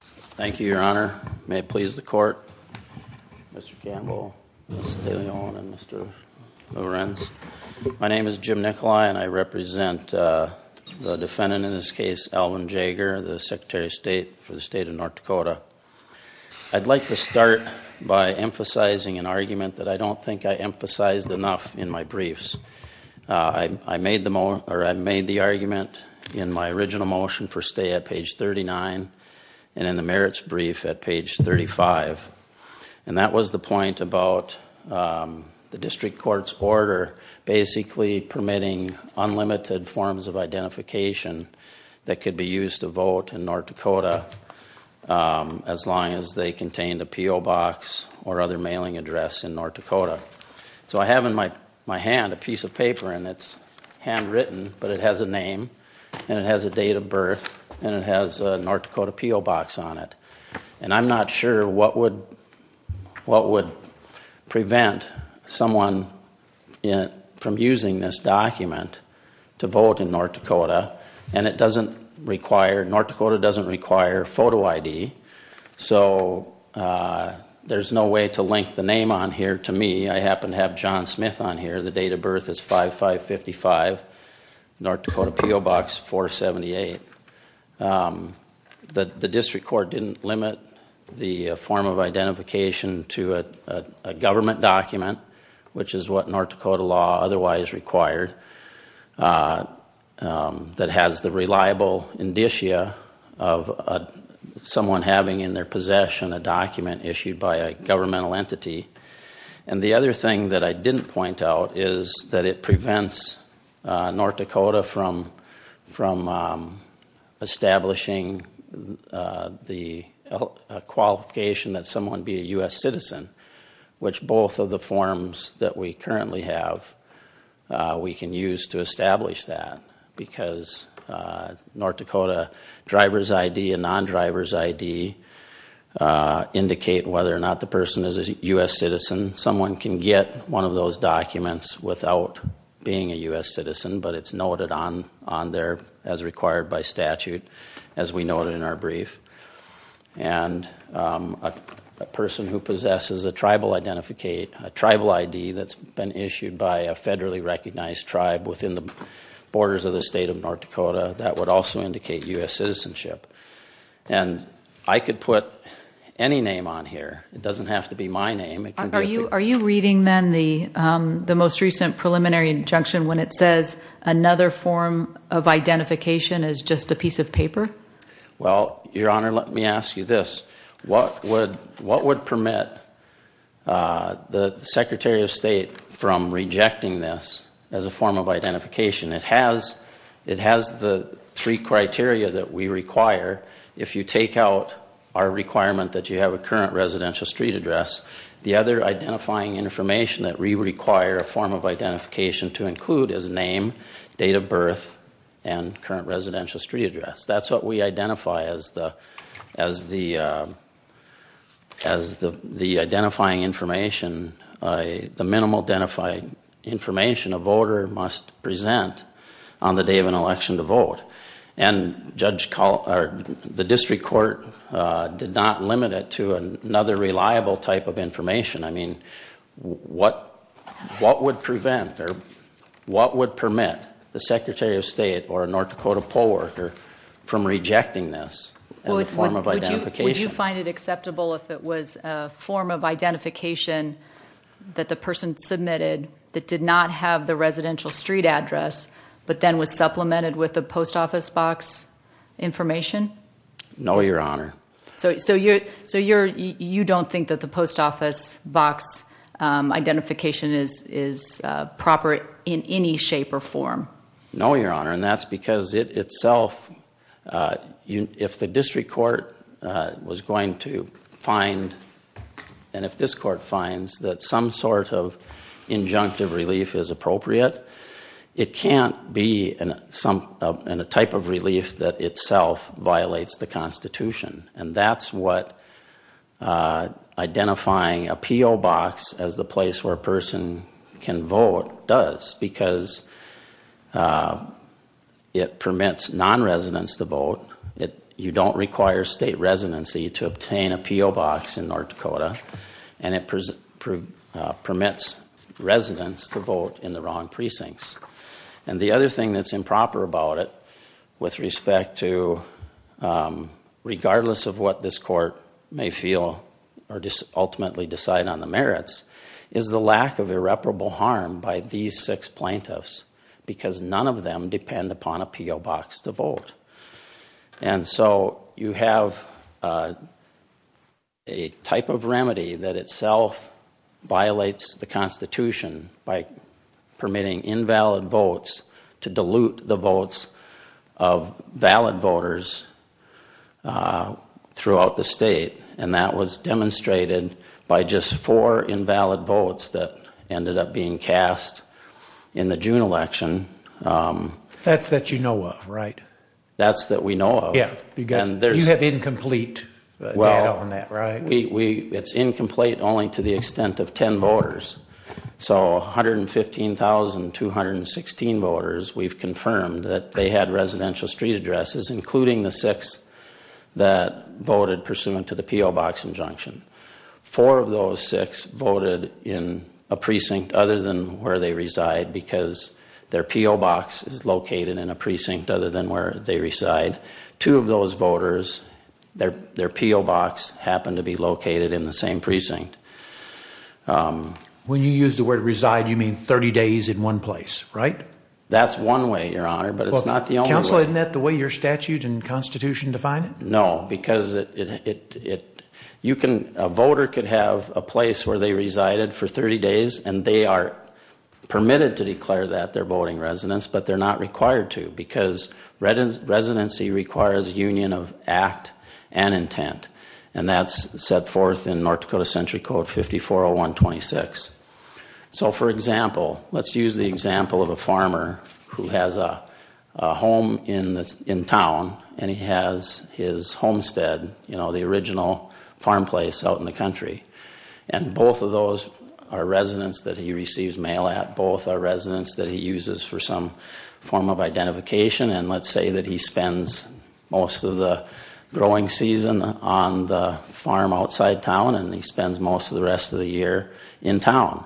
Thank you, Your Honor. May it please the Court, Mr. Gamble, Ms. Daly-Owen, and Mr. Lorenz. My name is Jim Nicholai, and I represent the defendant in this case, Alvin Jaeger, the Secretary of State for the State of North Dakota. I'd like to start by emphasizing an argument that I don't think I emphasized enough in my briefs. I made the argument in my original motion for stay at page 39, and in the merits brief at page 35, and that was the point about the district court's order basically permitting unlimited forms of identification that could be used to vote in North Dakota as long as they contained a P.O. box or other mailing address in North Dakota. So I have in my hand a piece of paper, and it's handwritten, but it has a name, and it has a date of birth, and it has a North Dakota P.O. box on it. And I'm not sure what would prevent someone from using this document to vote in North Dakota, and North Dakota doesn't require photo ID, so there's no way to link the name on page 35, North Dakota P.O. box 478. The district court didn't limit the form of identification to a government document, which is what North Dakota law otherwise required, that has the reliable indicia of someone having in their possession a document issued by a governmental entity. And the other thing that I didn't point out is that it prevents North Dakota from establishing the qualification that someone be a U.S. citizen, which both of the forms that we currently have, we can use to establish that, because North Dakota driver's ID and U.S. citizen, someone can get one of those documents without being a U.S. citizen, but it's noted on there as required by statute, as we noted in our brief. And a person who possesses a tribal ID that's been issued by a federally recognized tribe within the borders of the state of North Dakota, that would also indicate U.S. citizenship. And I could put any name on here, it doesn't have to be my name. Are you reading then the most recent preliminary injunction when it says another form of identification is just a piece of paper? Well, Your Honor, let me ask you this. What would permit the Secretary of State from rejecting this as a form of identification? It has the three criteria that we require. If you take out our requirement that you have a current residential street address, the other identifying information that we require a form of identification to include is name, date of birth, and current residential street address. That's what we identify as the identifying information, the minimal identified information a voter must present on the day of an election to the court did not limit it to another reliable type of information. I mean, what would prevent or what would permit the Secretary of State or a North Dakota poll worker from rejecting this as a form of identification? Would you find it acceptable if it was a form of identification that the person submitted that did not have the residential street address, but then was supplemented with the post office box information? No, Your Honor. So you don't think that the post office box identification is proper in any shape or form? No, Your Honor, and that's because it itself, if the district court was going to find and if this court finds that some sort of injunctive relief is appropriate, it can't be in a type of relief that itself violates the Constitution, and that's what identifying a P.O. box as the place where a person can vote does, because it permits non-residents to vote. You don't require state residency to obtain a P.O. box in North Dakota, and it permits residents to vote in the wrong precincts, and the other thing that's improper about it with respect to regardless of what this court may feel or ultimately decide on the merits is the lack of irreparable harm by these six plaintiffs, because none of them depend upon a P.O. box to vote, and so you have a type of remedy that itself violates the Constitution by permitting invalid votes to dilute the votes of valid voters throughout the state, and that was demonstrated by just four invalid votes that ended up being cast in the June election. That's that you know of, right? That's that we know of. You have incomplete data on that, right? It's incomplete only to the extent of 10 voters, so 115,216 voters we've confirmed that they had residential street addresses, including the six that voted pursuant to the P.O. box injunction. Four of those six voted in a precinct other than where they reside, because their P.O. box is located in a precinct other than where they reside. Two of those voters, their P.O. box happened to be located in the same precinct. When you use the word reside, you mean 30 days in one place, right? That's one way, Your Honor, but it's not the only way. Counsel, isn't that the way your statute and Constitution define it? No, because a voter could have a place where they resided for 30 days, and they are permitted to because residency requires union of act and intent. And that's set forth in North Dakota Century Code 5401.26. So, for example, let's use the example of a farmer who has a home in town, and he has his homestead, you know, the original farm place out in the country. And both of those are residents that he receives mail at. Both are residents that he uses for some form of identification. And let's say that he spends most of the growing season on the farm outside town, and he spends most of the rest of the year in town.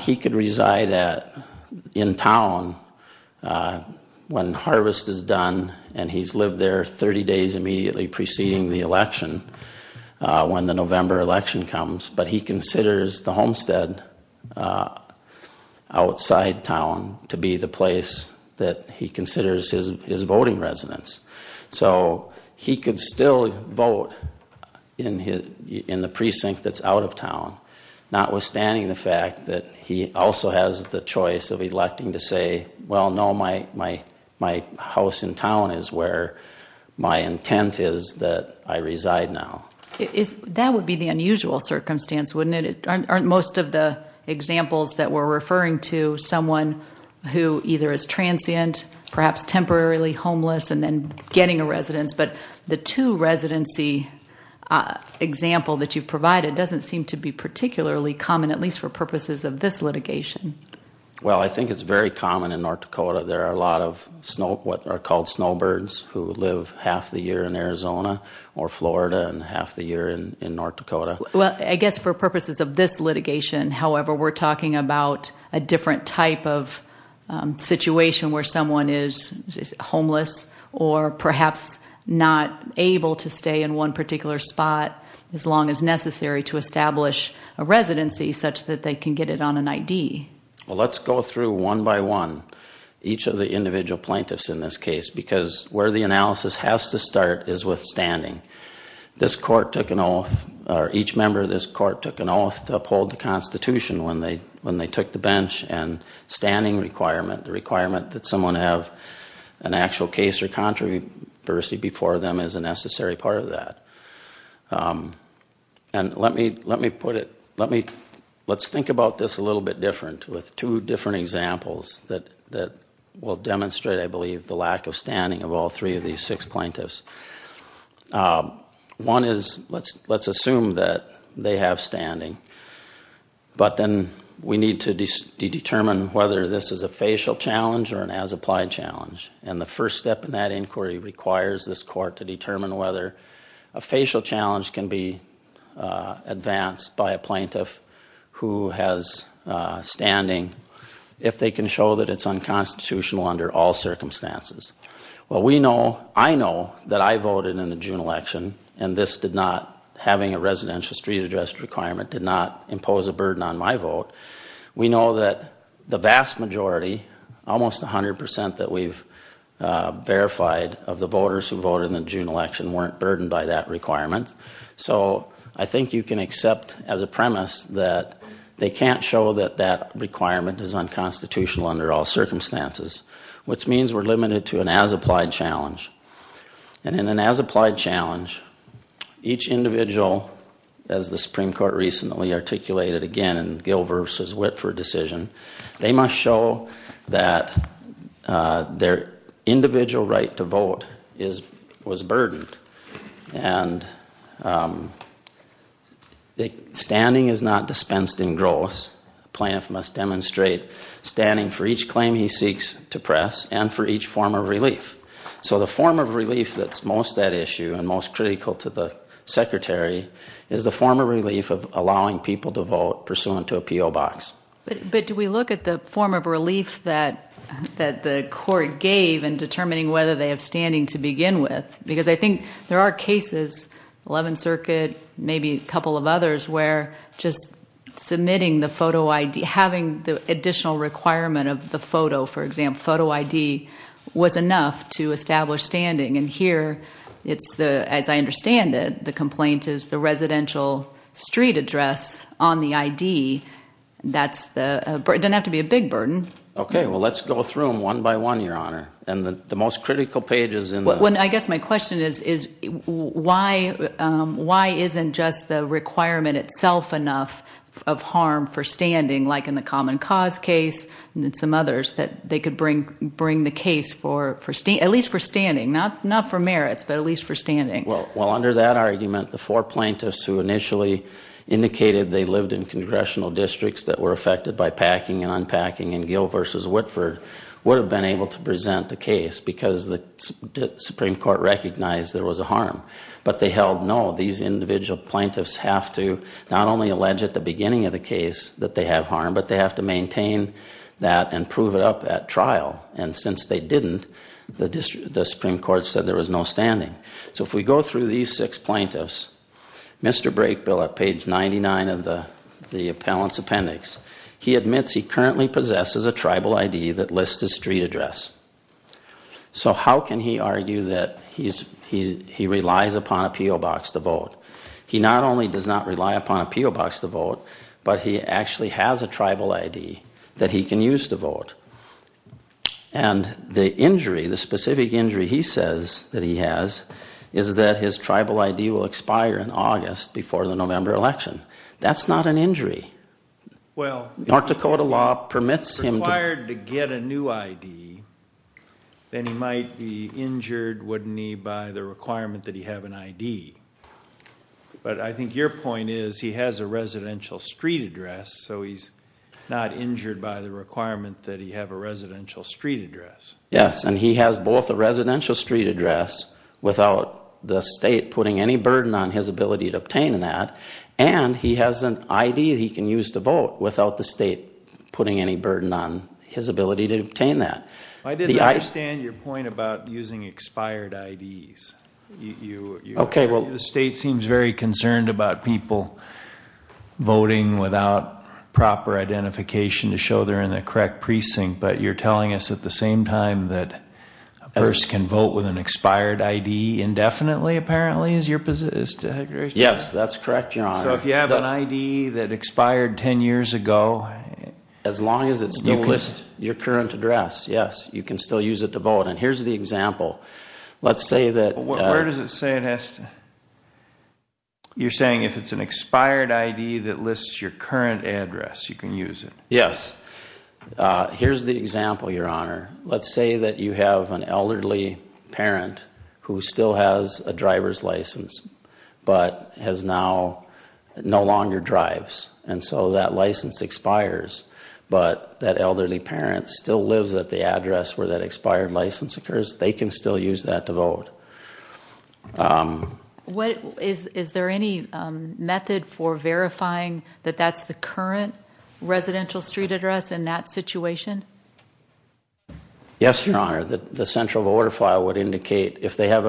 He could reside in town when harvest is done, and he's lived there 30 days immediately preceding the election, when the November election comes. But he considers the homestead outside town to be the place that he considers his voting residence. So, he could still vote in the precinct that's out of town, notwithstanding the fact that he also has the choice of electing to say, well, no, my house in town is where my intent is that I reside now. That would be the unusual circumstance, wouldn't it? Aren't most of the examples that we're referring to someone who either is transient, perhaps temporarily homeless, and then getting a residence? But the two-residency example that you've provided doesn't seem to be particularly common, at least for purposes of this litigation. Well, I think it's very common in North Dakota. There are a lot of what are called snowbirds who live half the year in Arizona or Florida and half the year in North Dakota. Well, I guess for purposes of this litigation, however, we're talking about a different type of situation where someone is homeless or perhaps not able to stay in one particular spot as long as necessary to establish a residency such that they can get it on an ID. Well, let's go through one by one each of the individual plaintiffs in this case because where the analysis has to start is with standing. This court took an oath or each member of this court took an oath to uphold the Constitution when they took the bench and standing requirement, the requirement that someone have an actual case or controversy before them is a necessary part of that. And let me put it, let's think about this a little bit different with two different examples that will demonstrate, I believe, the lack of standing of all three of these six plaintiffs. One is, let's assume that they have standing, but then we need to determine whether this is a facial challenge or an as-applied challenge. And the first step in that inquiry requires this court to determine whether a facial challenge can be advanced by a plaintiff who has standing if they can show that it's unconstitutional under all circumstances. Well, we know, I know that I voted in the June election and this did not, having a residential street address requirement did not impose a burden on my vote. We know that the vast majority, almost 100% that we've verified of the voters who voted in the June election weren't burdened by that requirement. So I think you can accept as a premise that they can't show that that requirement is unconstitutional under all circumstances, which means we're limited to an as-applied challenge. And in an as-applied challenge, each individual, as the Supreme Court recently articulated again in Gill v. Whitford decision, they must show that their individual right to vote was burdened. And standing is not dispensed in gross. Plaintiff must demonstrate standing for each claim he seeks to press and for each form of relief. So the form of relief that's most at issue and most critical to the Secretary is the form of relief of allowing people to vote pursuant to a P.O. Box. But do we look at the form of relief that the court gave in determining whether they have standing to begin with? Because I think there are cases, 11th Circuit, maybe a couple of others, where just submitting the photo ID, having the additional requirement of the photo, for example, photo ID was enough to establish standing. And here, as I understand it, the complaint is the residential street address on the ID. It doesn't have to be a big burden. Okay. Well, let's go through them one by one, Your Honor. And the most critical page is in the... ...itself enough of harm for standing, like in the Common Cause case and some others, that they could bring the case for, at least for standing, not for merits, but at least for standing. Well, under that argument, the four plaintiffs who initially indicated they lived in congressional districts that were affected by packing and unpacking in Gill v. Whitford would have been able to present the case because the Supreme Court recognized there was a harm. But they held no. These individual plaintiffs have to not only allege at the beginning of the case that they have harm, but they have to maintain that and prove it up at trial. And since they didn't, the Supreme Court said there was no standing. So if we go through these six plaintiffs, Mr. Brakebill at page 99 of the appellant's appendix, he admits he currently possesses a tribal ID that lists his street address. So how can he argue that he relies upon a P.O. Box to vote? He not only does not rely upon a P.O. Box to vote, but he actually has a tribal ID that he can use to vote. And the injury, the specific injury he says that he has is that his tribal ID will expire in August before the November election. That's not an injury. North Dakota law permits him to... Then he might be injured, wouldn't he, by the requirement that he have an ID. But I think your point is he has a residential street address, so he's not injured by the requirement that he have a residential street address. Yes, and he has both a residential street address without the state putting any burden on his ability to obtain that, and he has an ID he can use to vote without the state putting any burden on his ability to obtain that. I didn't understand your point about using expired IDs. The state seems very concerned about people voting without proper identification to show they're in the correct precinct, but you're telling us at the same time that a person can vote with an expired ID indefinitely, apparently, is your position? Yes, that's correct, John. So if you have an ID that expired 10 years ago... You list your current address, yes. You can still use it to vote, and here's the example. Let's say that... Where does it say it has to... You're saying if it's an expired ID that lists your current address, you can use it. Yes. Here's the example, Your Honour. Let's say that you have an elderly parent who still has a driver's license, but has now... no longer drives, and so that license expires, but that elderly parent still lives at the address where that expired license occurs, they can still use that to vote. Is there any method for verifying that that's the current residential street address in that situation? Yes, Your Honour. The central voter file would indicate if they have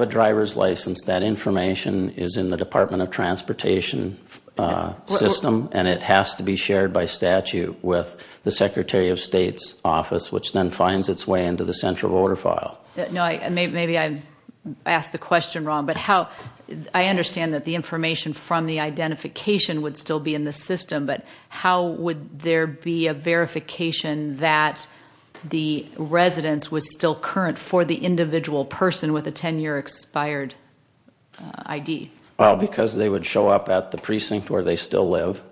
a driver's license, that information is in the Department of Transportation system, and it has to be shared by statute with the Secretary of State's office, which then finds its way into the central voter file. Maybe I've asked the question wrong, but I understand that the information from the identification would still be in the system, but how would there be a verification that the residence was still current for the individual person with a 10-year expired ID? Because they would show up at the precinct where they still live,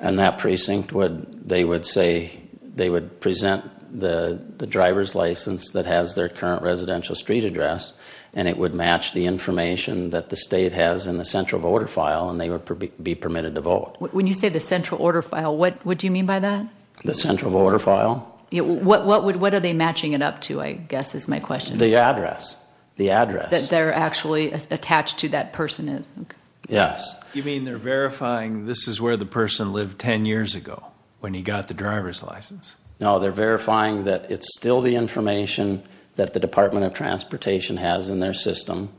and that precinct would... they would say... they would present the driver's license that has their current residential street address, and it would match the information that the state has in the central voter file, and they would be permitted to vote. When you say the central order file, what do you mean by that? The central voter file. What are they matching it up to, I guess, is my question. The address. The address. That they're actually attached to that person. Yes. You mean they're verifying this is where the person lived 10 years ago when he got the driver's license? No, they're verifying that it's still the information that the Department of Transportation has in their system,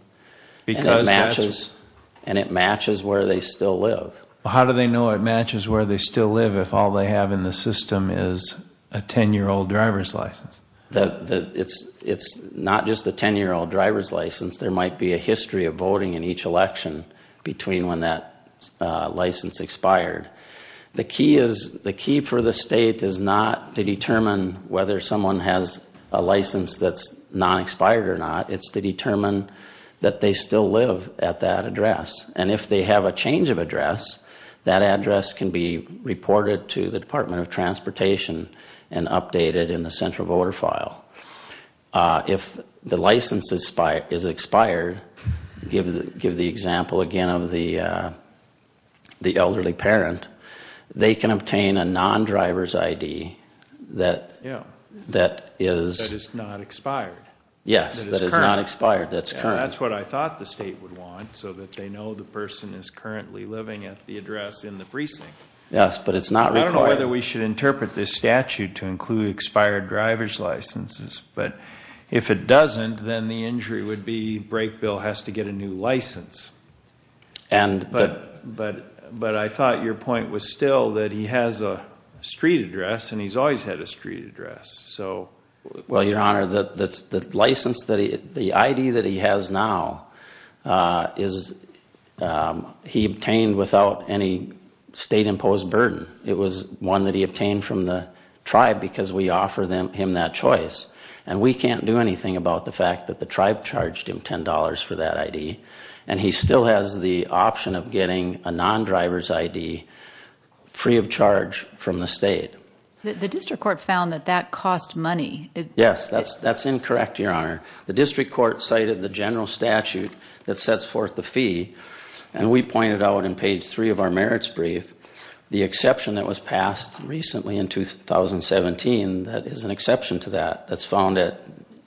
and it matches where they still live. How do they know it matches where they still live if all they have in the system is a 10-year-old driver's license? It's not just a 10-year-old driver's license. There might be a history of voting in each election between when that license expired. The key for the state is not to determine whether someone has a license that's non-expired or not. It's to determine that they still live at that address. And if they have a change of address, that address can be reported to the Department of Transportation and updated in the central voter file. If the license is expired, give the example again of the elderly parent, they can obtain a non-driver's ID that is... Yeah, that is not expired. Yes, that is not expired. That's what I thought the state would want so that they know the person is currently living at the address in the precinct. Yes, but it's not required. I don't know whether we should interpret this statute to include expired driver's licenses, but if it doesn't, then the injury would be Brakeville has to get a new license. But I thought your point was still that he has a street address and he's always had a street address. Well, Your Honor, the license, the ID that he has now, he obtained without any state-imposed burden. It was one that he obtained from the tribe because we offer him that choice. And we can't do anything about the fact that the tribe charged him $10 for that ID and he still has the option of getting a non-driver's ID free of charge from the state. The district court found that that cost money. Yes, that's incorrect, Your Honor. The district court cited the general statute that sets forth the fee and we pointed out in page 3 of our merits brief the exception that was passed recently in 2017 that is an exception to that that's found at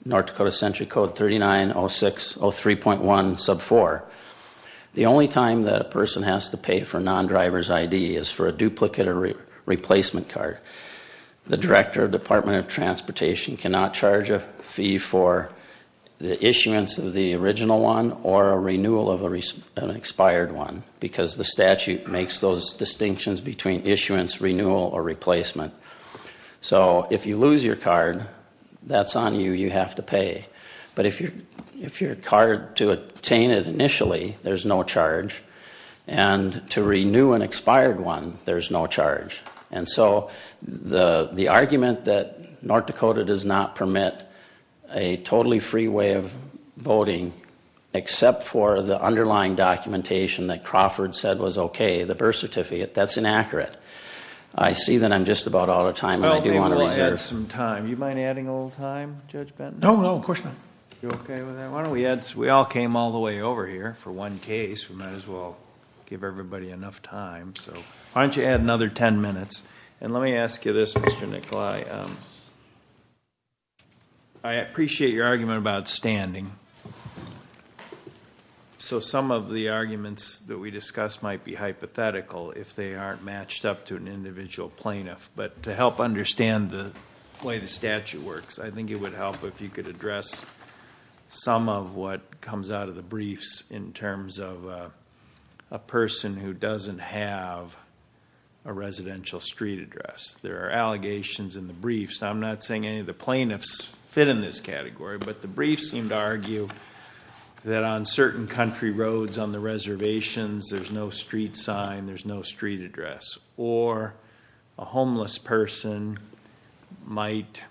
North Dakota Century Code 3906.03.1 sub 4. The only time that a person has to pay for a non-driver's ID is for a duplicate or replacement card. The director of the Department of Transportation cannot charge a fee for the issuance of the original one or a renewal of an expired one because the statute makes those distinctions between issuance, renewal, or replacement. So if you lose your card, that's on you, you have to pay. But if you're required to obtain it initially, there's no charge. And to renew an expired one, there's no charge. And so the argument that North Dakota does not permit a totally free way of voting except for the underlying documentation that Crawford said was okay, the birth certificate, that's inaccurate. I see that I'm just about out of time. Well, let's add some time. Do you mind adding a little time, Judge Benton? No, no, of course not. We all came all the way over here for one case. We might as well give everybody enough time. Why don't you add another 10 minutes? And let me ask you this, Mr. Nikolai. I appreciate your argument about standing. So some of the arguments that we discussed might be hypothetical if they aren't matched up to an individual plaintiff. But to help understand the way the statute works, I think it would help if you could address some of what comes out of the briefs in terms of a person who doesn't have a residential street address. There are allegations in the briefs. I'm not saying any of the plaintiffs fit in this category, but the briefs seem to argue that on certain country roads on the reservations, there's no street sign, there's no street address. Or a homeless person might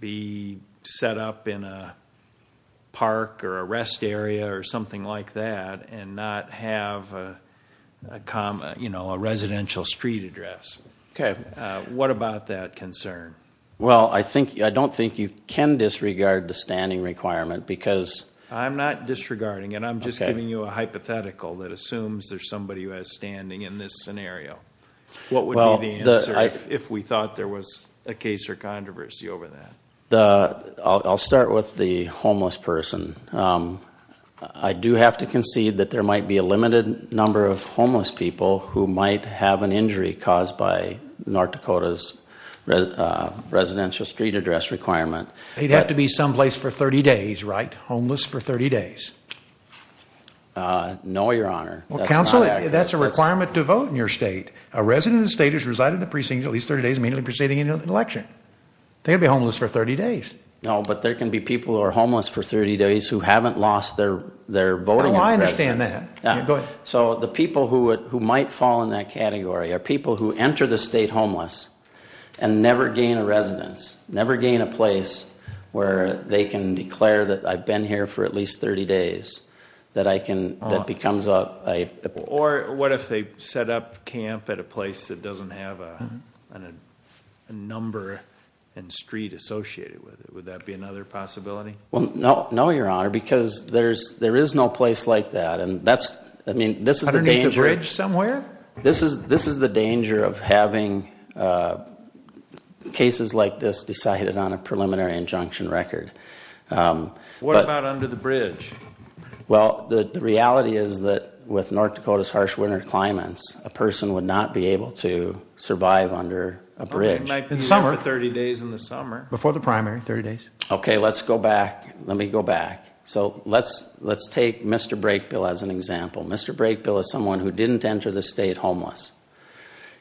be set up in a park or a rest area or something like that and not have a residential street address. What about that concern? Well, I don't think you can disregard the standing requirement because... I'm not disregarding it. I'm just giving you a hypothetical that assumes there's somebody who has standing in this scenario. What would be the answer if we thought there was a case or controversy over that? I'll start with the homeless person. I do have to concede that there might be a limited number of homeless people who might have an injury caused by North Dakota's residential street address requirement. He'd have to be someplace for 30 days, right? Homeless for 30 days. No, Your Honor. Well, counsel, that's a requirement to vote in your state. A resident of the state who's resided in the precinct at least 30 days may be proceeding into an election. They'd be homeless for 30 days. No, but there can be cases where they can declare that I've been here for at least 30 days that becomes a... Or what if they set up camp at a place that doesn't have a number and street associated with it? Would that be another possibility? No, Your Honor, because there is no place like that. Underneath a bridge somewhere? This is the danger of having cases like this decided on a preliminary injunction record. What about under the bridge? The reality is that with North Dakota's harsh winter climates a person would not be able to survive under a bridge. Before the primary, 30 days. Okay, let's go back. Let me go back. Let's take Mr. Brakebill as an example. Mr. Brakebill is someone who didn't enter the state homeless.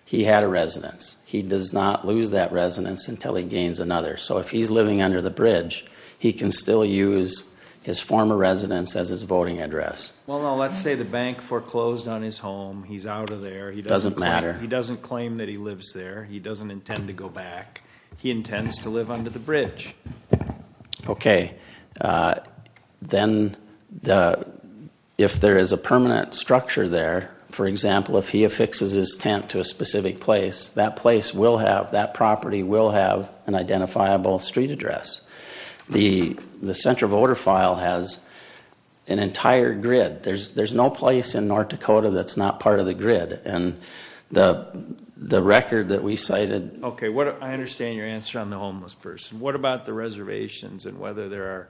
He had a residence. He does not lose that residence until he gains another. If he's living under the bridge, he can still use his former residence as his voting address. Let's say the bank foreclosed on his home. He's out of there. He doesn't claim that he lives there. He doesn't intend to go back. He intends to live under the bridge. Okay. Then if there is a permanent structure there for example, if he affixes his tent to a specific place, that property will have an identifiable street address. The central voter file has an entire grid. There's no place in North Dakota that's not part of the grid. The record that we cited... Okay, I understand your answer on the homeless person. What about the reservations and whether there are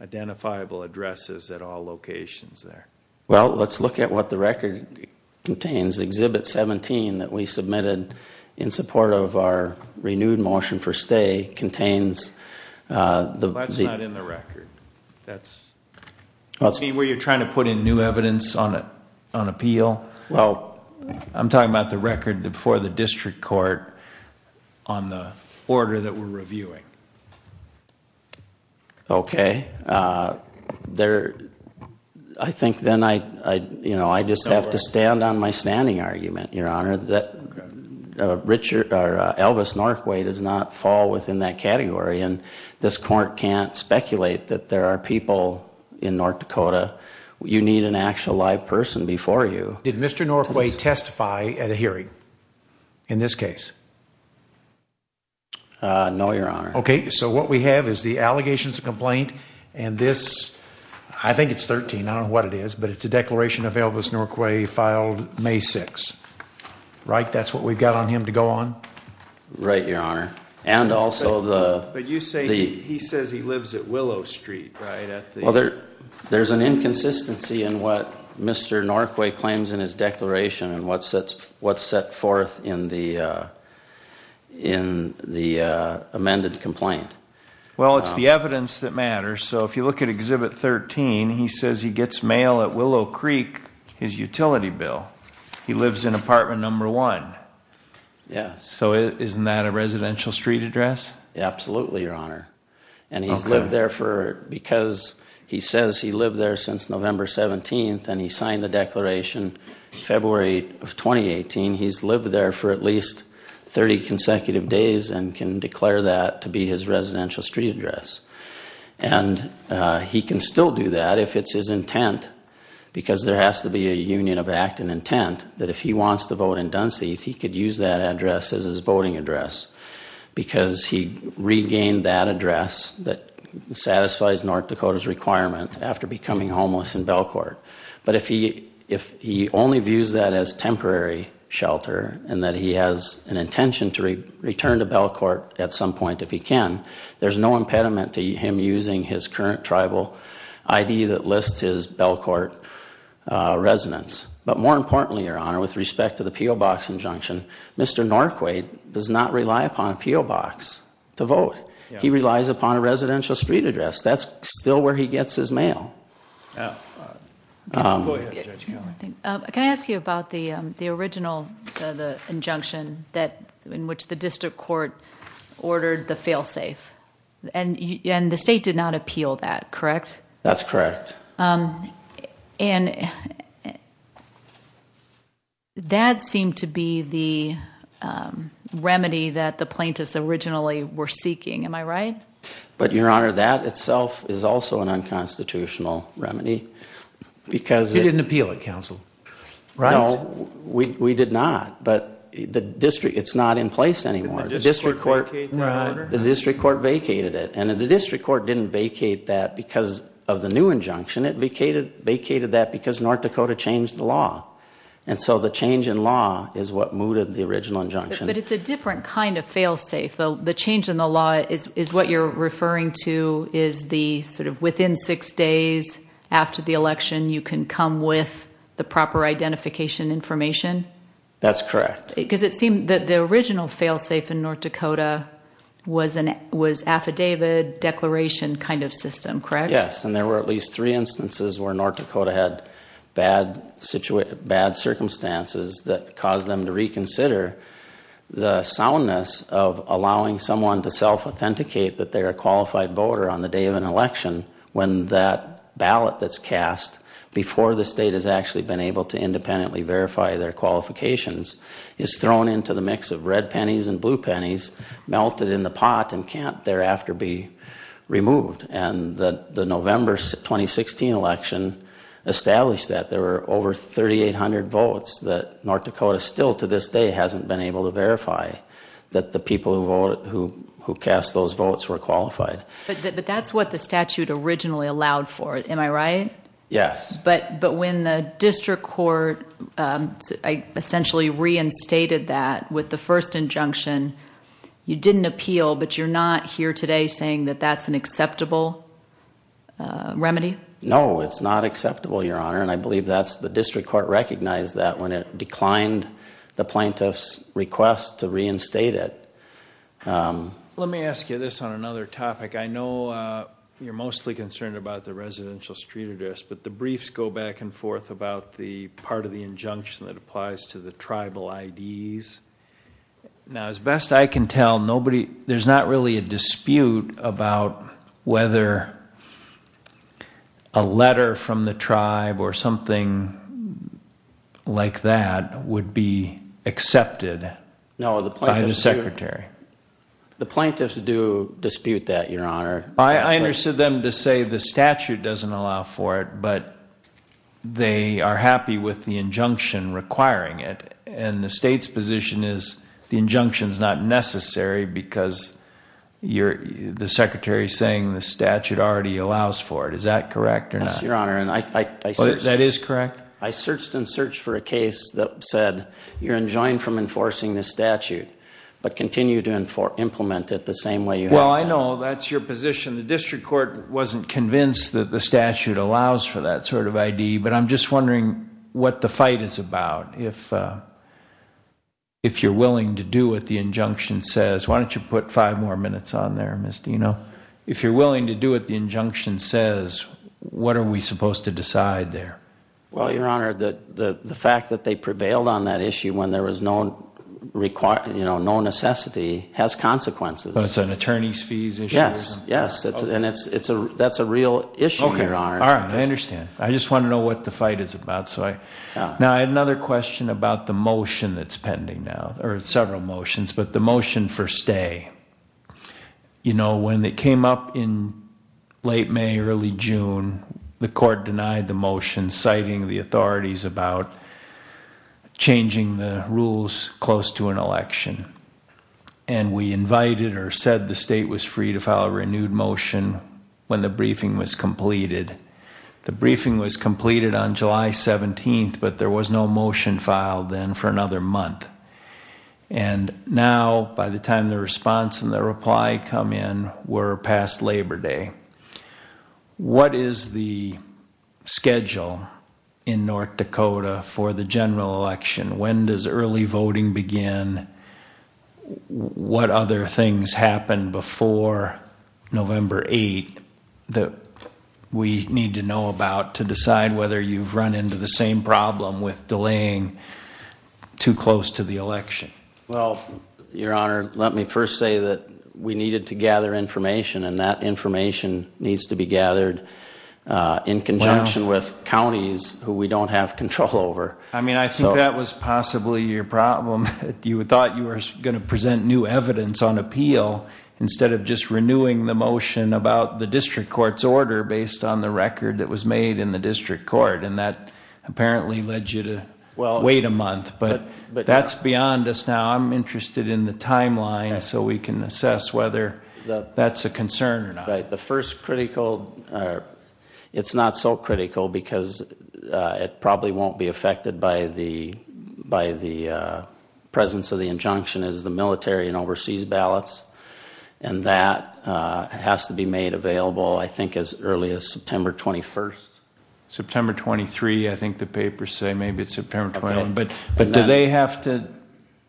identifiable addresses at all locations there? Well, let's look at what the record contains. Exhibit 17 that we submitted in support of our renewed motion for stay contains the... That's not in the record. That's... Were you trying to put in new evidence on appeal? I'm talking about the record before the district court on the order that we're reviewing. Okay. There... I think then I just have to stand on my standing argument, Your Honor, that Elvis Northway does not fall within that category and this court can't speculate that there are people in North Dakota. You need an actual live person before you. Did Mr. Northway testify at a hearing in this case? No, Your Honor. Okay, so what we have is the allegations of complaint and this... I think it's 13 I don't know what it is, but it's a declaration of Elvis Northway filed May 6th. Right? That's what we've got on him to go on? Right, Your Honor. And also the... But you say he says he lives at Willow Street, right? There's an inconsistency in what Mr. Northway claims in his declaration and what's set forth in the in the complaint. Well, it's the evidence that matters, so if you look at Exhibit 13, he says he gets mail at Willow Creek, his utility bill. He lives in apartment number 1. So isn't that a residential street address? Absolutely, Your Honor. And he's lived there for... because he says he lived there since November 17th and he signed the declaration February of 2018, he's lived there for at least 30 consecutive days and can declare that to be his residential street address. And he can still do that if it's his intent because there has to be a union of act and intent that if he wants to vote in Duncey, he could use that address as his voting address because he regained that address that satisfies North Dakota's requirement after becoming homeless in Belcourt. But if he only views that as temporary shelter and that he has an intention to return to Belcourt at some point if he can, there's no impediment to him using his current tribal ID that lists his Belcourt residence. But more importantly, Your Honor, with respect to the P.O. Box injunction, Mr. Norquay does not rely upon a P.O. Box to vote. He relies upon a residential street address. That's still where he gets his mail. Can I ask you about the injunction in which the district court ordered the fail-safe. And the state did not appeal that, correct? That's correct. And that seemed to be the remedy that the plaintiffs originally were seeking. Am I right? But Your Honor, that itself is also an unconstitutional remedy because You didn't appeal it, counsel. No, we did not. But it's not in place anymore. The district court vacated it. And the district court didn't vacate that because of the new injunction. It vacated that because North Dakota changed the law. And so the change in law is what mooted the original injunction. But it's a different kind of fail-safe. The change in the law is what you're referring to is the sort of within six days after the election, you can come with the proper identification information? That's correct. The original fail-safe in North Dakota was affidavit declaration kind of system, correct? Yes, and there were at least three instances where North Dakota had bad circumstances that caused them to reconsider the soundness of allowing someone to self-authenticate that they're a qualified voter on the day of an election when that person before the state has actually been able to independently verify their qualifications is thrown into the mix of red pennies and blue pennies melted in the pot and can't thereafter be removed. And the November 2016 election established that there were over 3,800 votes that North Dakota still to this day hasn't been able to verify that the people who cast those votes were qualified. But that's what the statute originally allowed for, am I right? Yes. But when the district court essentially reinstated that with the first injunction you didn't appeal, but you're not here today saying that that's an acceptable remedy? No, it's not acceptable, Your Honor, and I believe the district court recognized that when it declined the plaintiff's request to reinstate it. Let me ask you this on another topic. I know you're mostly concerned about the residential street address but the briefs go back and forth about the part of the injunction that applies to the tribal IDs. Now, as best I can tell, there's not really a dispute about whether a letter from the tribe or something like that would be accepted by the secretary. The plaintiffs do dispute that, Your Honor. I understood them to say the statute doesn't allow for it, but they are happy with the injunction requiring it, and the state's position is the injunction is not necessary because the secretary is saying the statute already allows for it, is that correct or not? That is correct. I searched and searched for a case that said you're enjoined from enforcing the statute, but continue to implement it the same way. I know that's your position. The district court wasn't convinced that the statute allows for that sort of ID, but I'm just wondering what the fight is about. If you're willing to do what the injunction says, why don't you put five more minutes on there, Ms. Dino? If you're willing to do what the injunction says, what are we supposed to decide there? The fact that they prevailed on that issue when there was no necessity has consequences. It's an attorney's fees issue? Yes, and that's a real issue. I understand. I just want to know what the fight is about. I have another question about the motion that's pending now, or several motions, but the motion for stay. When it came up in late May, early June, the court denied the motion citing the authorities about changing the rules close to an election, and we invited or said the state was free to file a renewed motion when the briefing was completed. The briefing was completed on July 17th, but there was no motion filed then for another month. Now, by the time the response and the reply come in, we're past Labor Day. What is the general election? When does early voting begin? What other things happened before November 8th that we need to know about to decide whether you've run into the same problem with delaying too close to the election? Your Honor, let me first say that we needed to gather information, and that information needs to be gathered in conjunction with the election. I think that was possibly your problem. You thought you were going to present new evidence on appeal instead of just renewing the motion about the district court's order based on the record that was made in the district court, and that apparently led you to wait a month. That's beyond us now. I'm interested in the timeline so we can assess whether that's a concern or not. The first critical it's not so critical because it probably won't be affected by the presence of the injunction is the military and overseas ballots, and that has to be made available, I think, as early as September 21st. September 23, I think the papers say. Maybe it's September 21. Do they have to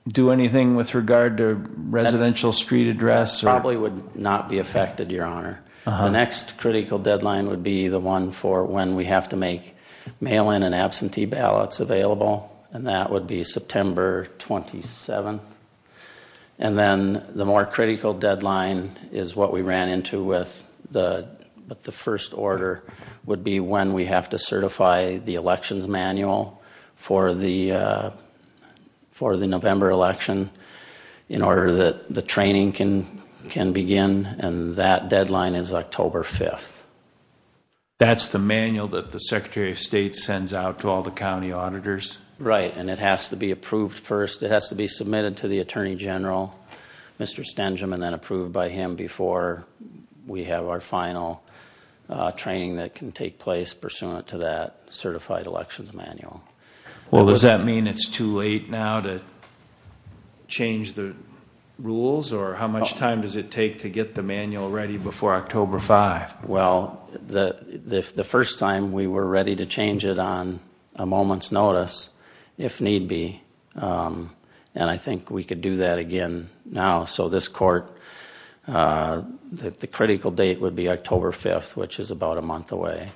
do anything with regard to residential street address? It probably would not be affected, Your Honor. The next critical deadline would be the one for when we have to make mail-in and absentee ballots available, and that would be September 27. Then the more critical deadline is what we ran into with the first order would be when we have to certify the elections manual for the November election in order that the training can begin, and that deadline is October 5th. That's the manual that the Secretary of State sends out to all the county auditors? Right, and it has to be approved first. It has to be submitted to the Attorney General, Mr. Stengem, and then approved by him before we have our final training that can take place pursuant to that certified elections manual. Well, does that mean it's too late now to change the rules, or how much time does it take to get the manual ready before October 5th? Well, the first time we were ready to change it on a moment's notice, if need be, and I think we could do that again now, so this court, the critical date would be October 5th, which is about a month away.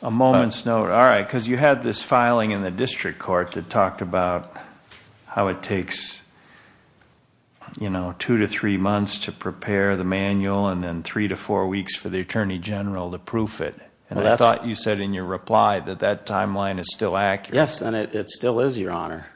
A moment's notice, all right, because you had this filing in the how it takes two to three months to prepare the manual, and then three to four weeks for the Attorney General to proof it, and I thought you said in your reply that that timeline is still accurate. Yes, and it still is, Your Honor.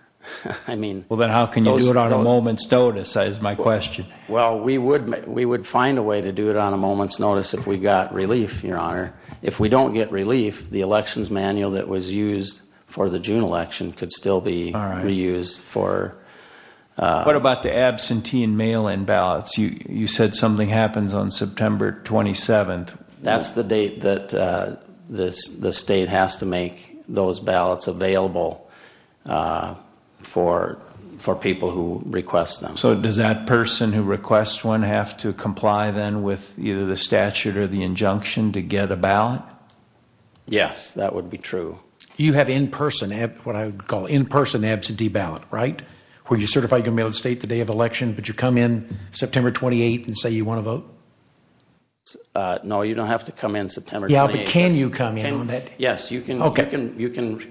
Well, then how can you do it on a moment's notice, is my question. Well, we would find a way to do it on a moment's notice if we got relief, Your Honor. If we don't get relief, the elections manual that was used for the June election could still be reused for What about the absentee and mail-in ballots? You said something happens on September 27th. That's the date that the state has to make those ballots available for people who request them. So does that person who requests one have to comply then with either the statute or the injunction to get a ballot? Yes, that would be true. You have in-person, what I would call in-person absentee ballot, right? Where you certify you're going to be able to state the day of election, but you come in September 28th and say you want to vote? No, you don't have to come in September 28th. Yeah, but can you come in on that? Yes, you can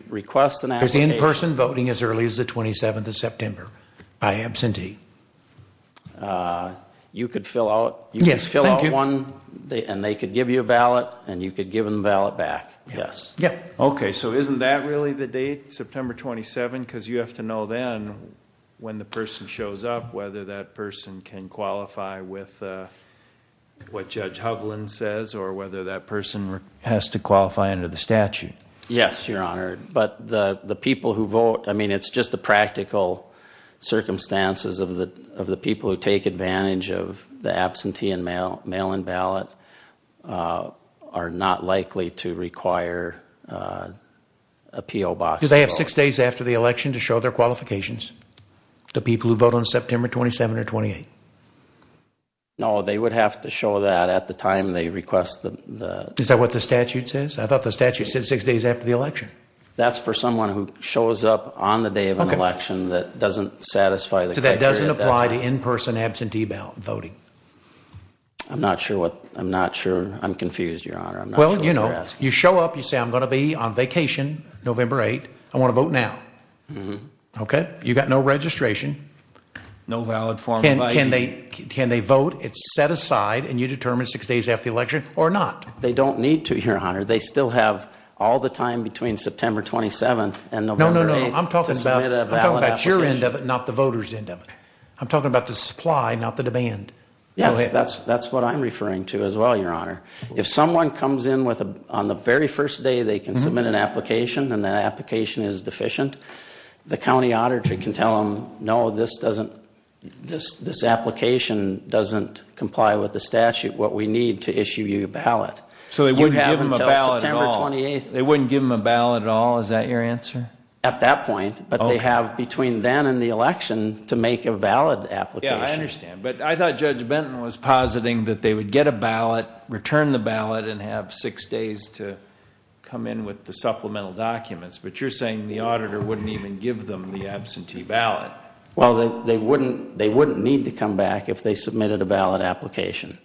request an absentee. Is the in-person voting as early as the 27th of September by absentee? You could fill out one, and they could give you a ballot, and you could give them the ballot back. Okay, so isn't that really the date, September 27th? Because you have to know then when the person shows up whether that person can qualify with what Judge Hovland says or whether that person has to qualify under the statute. Yes, Your Honor, but the people who vote, I mean, it's just the practical circumstances of the people who take advantage of the absentee and mail-in ballot are not likely to require a PO Box. Do they have six days after the election to show their qualifications to people who vote on September 27th or 28th? No, they would have to show that at the time they request the... Is that what the statute says? I thought the statute said six days after the election. That's for someone who shows up on the day of an election that doesn't satisfy the criteria. So that doesn't apply to in-person absentee voting? I'm not sure I'm confused, Your Honor. Well, you know, you show up, you say, I'm going to be on vacation November 8th. I want to vote now. You've got no registration. No valid form of ID. Can they vote? It's set aside and you determine six days after the election or not? They don't need to, Your Honor. They still have all the time between September 27th and November 8th. I'm talking about your end of it, not the voters end of it. I'm talking about the supply, not the demand. Yeah, that's what I'm referring to as well, Your Honor. If someone comes in on the very first day they can submit an application and that application is deficient, the county auditor can tell them, no, this doesn't... this application doesn't comply with the statute. What we need to issue you a ballot. So they wouldn't give them a ballot at all? Is that your answer? At that point, but they have between then and the election to make a valid application. Yeah, I understand. But I thought Judge Benton was positing that they would get a ballot, return the ballot, and have six days to come in with the supplemental documents, but you're saying the auditor wouldn't even give them the absentee ballot. Well, they wouldn't need to come back if they submitted a valid application.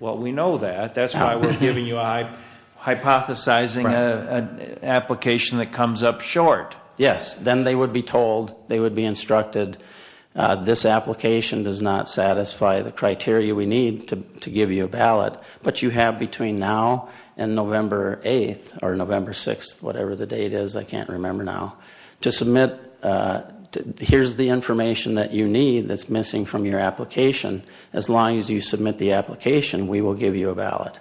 Well, we know that. That's why we're giving you a hypothesizing application that comes up short. Yes, then they would be told, they would be instructed, this application does not satisfy the criteria we need to give you a ballot, but you have between now and November 8th or November 6th, whatever the date is, I can't remember now, to submit, here's the information that you need that's missing from your application. As long as you submit the application, we will give you a ballot.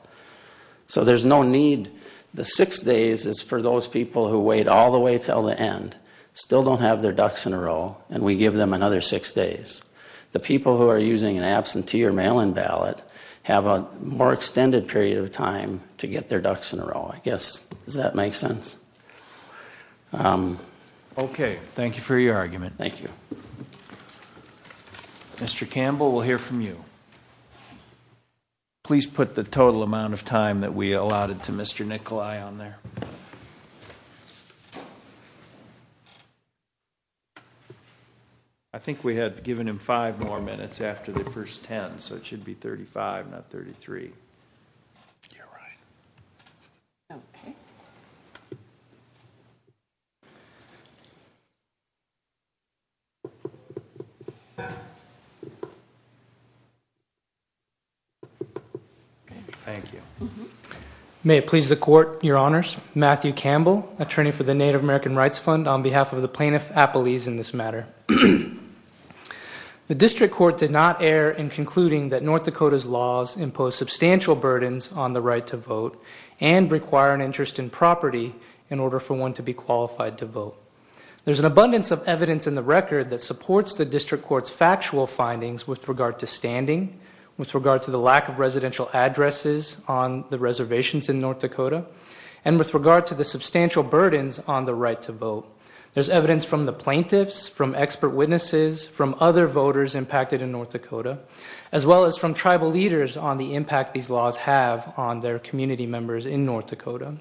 So there's no need, the six days is for those people who wait all the way until the end, still don't have their ducks in a row, and we give them another six days. The people who are using an absentee or mail-in ballot have a more extended period of time to get their ducks in a row. I guess, does that make sense? Okay, thank you for your argument. Thank you. Mr. Campbell, we'll hear from you. Please put the total amount of time that we have. I think we have given him five more minutes after the first ten, so it should be 35, not 33. Thank you. May it please the Court, Your Honors, Matthew Campbell, Attorney for the Native American Rights Fund, on behalf of the Plaintiff Appellees in this matter. The District Court did not err in concluding that North Dakota's laws impose substantial burdens on the right to vote, and require an interest in property in order for one to be qualified to vote. There's an abundance of evidence in the record that supports the District Court's factual findings with regard to standing, with regard to the lack of residential addresses on the reservations in North Dakota, and with regard to the substantial burdens on the right to vote. There's evidence from the plaintiffs, from expert witnesses, from other voters impacted in North Dakota, as well as from tribal leaders on the impact these laws have on their community members in North Dakota.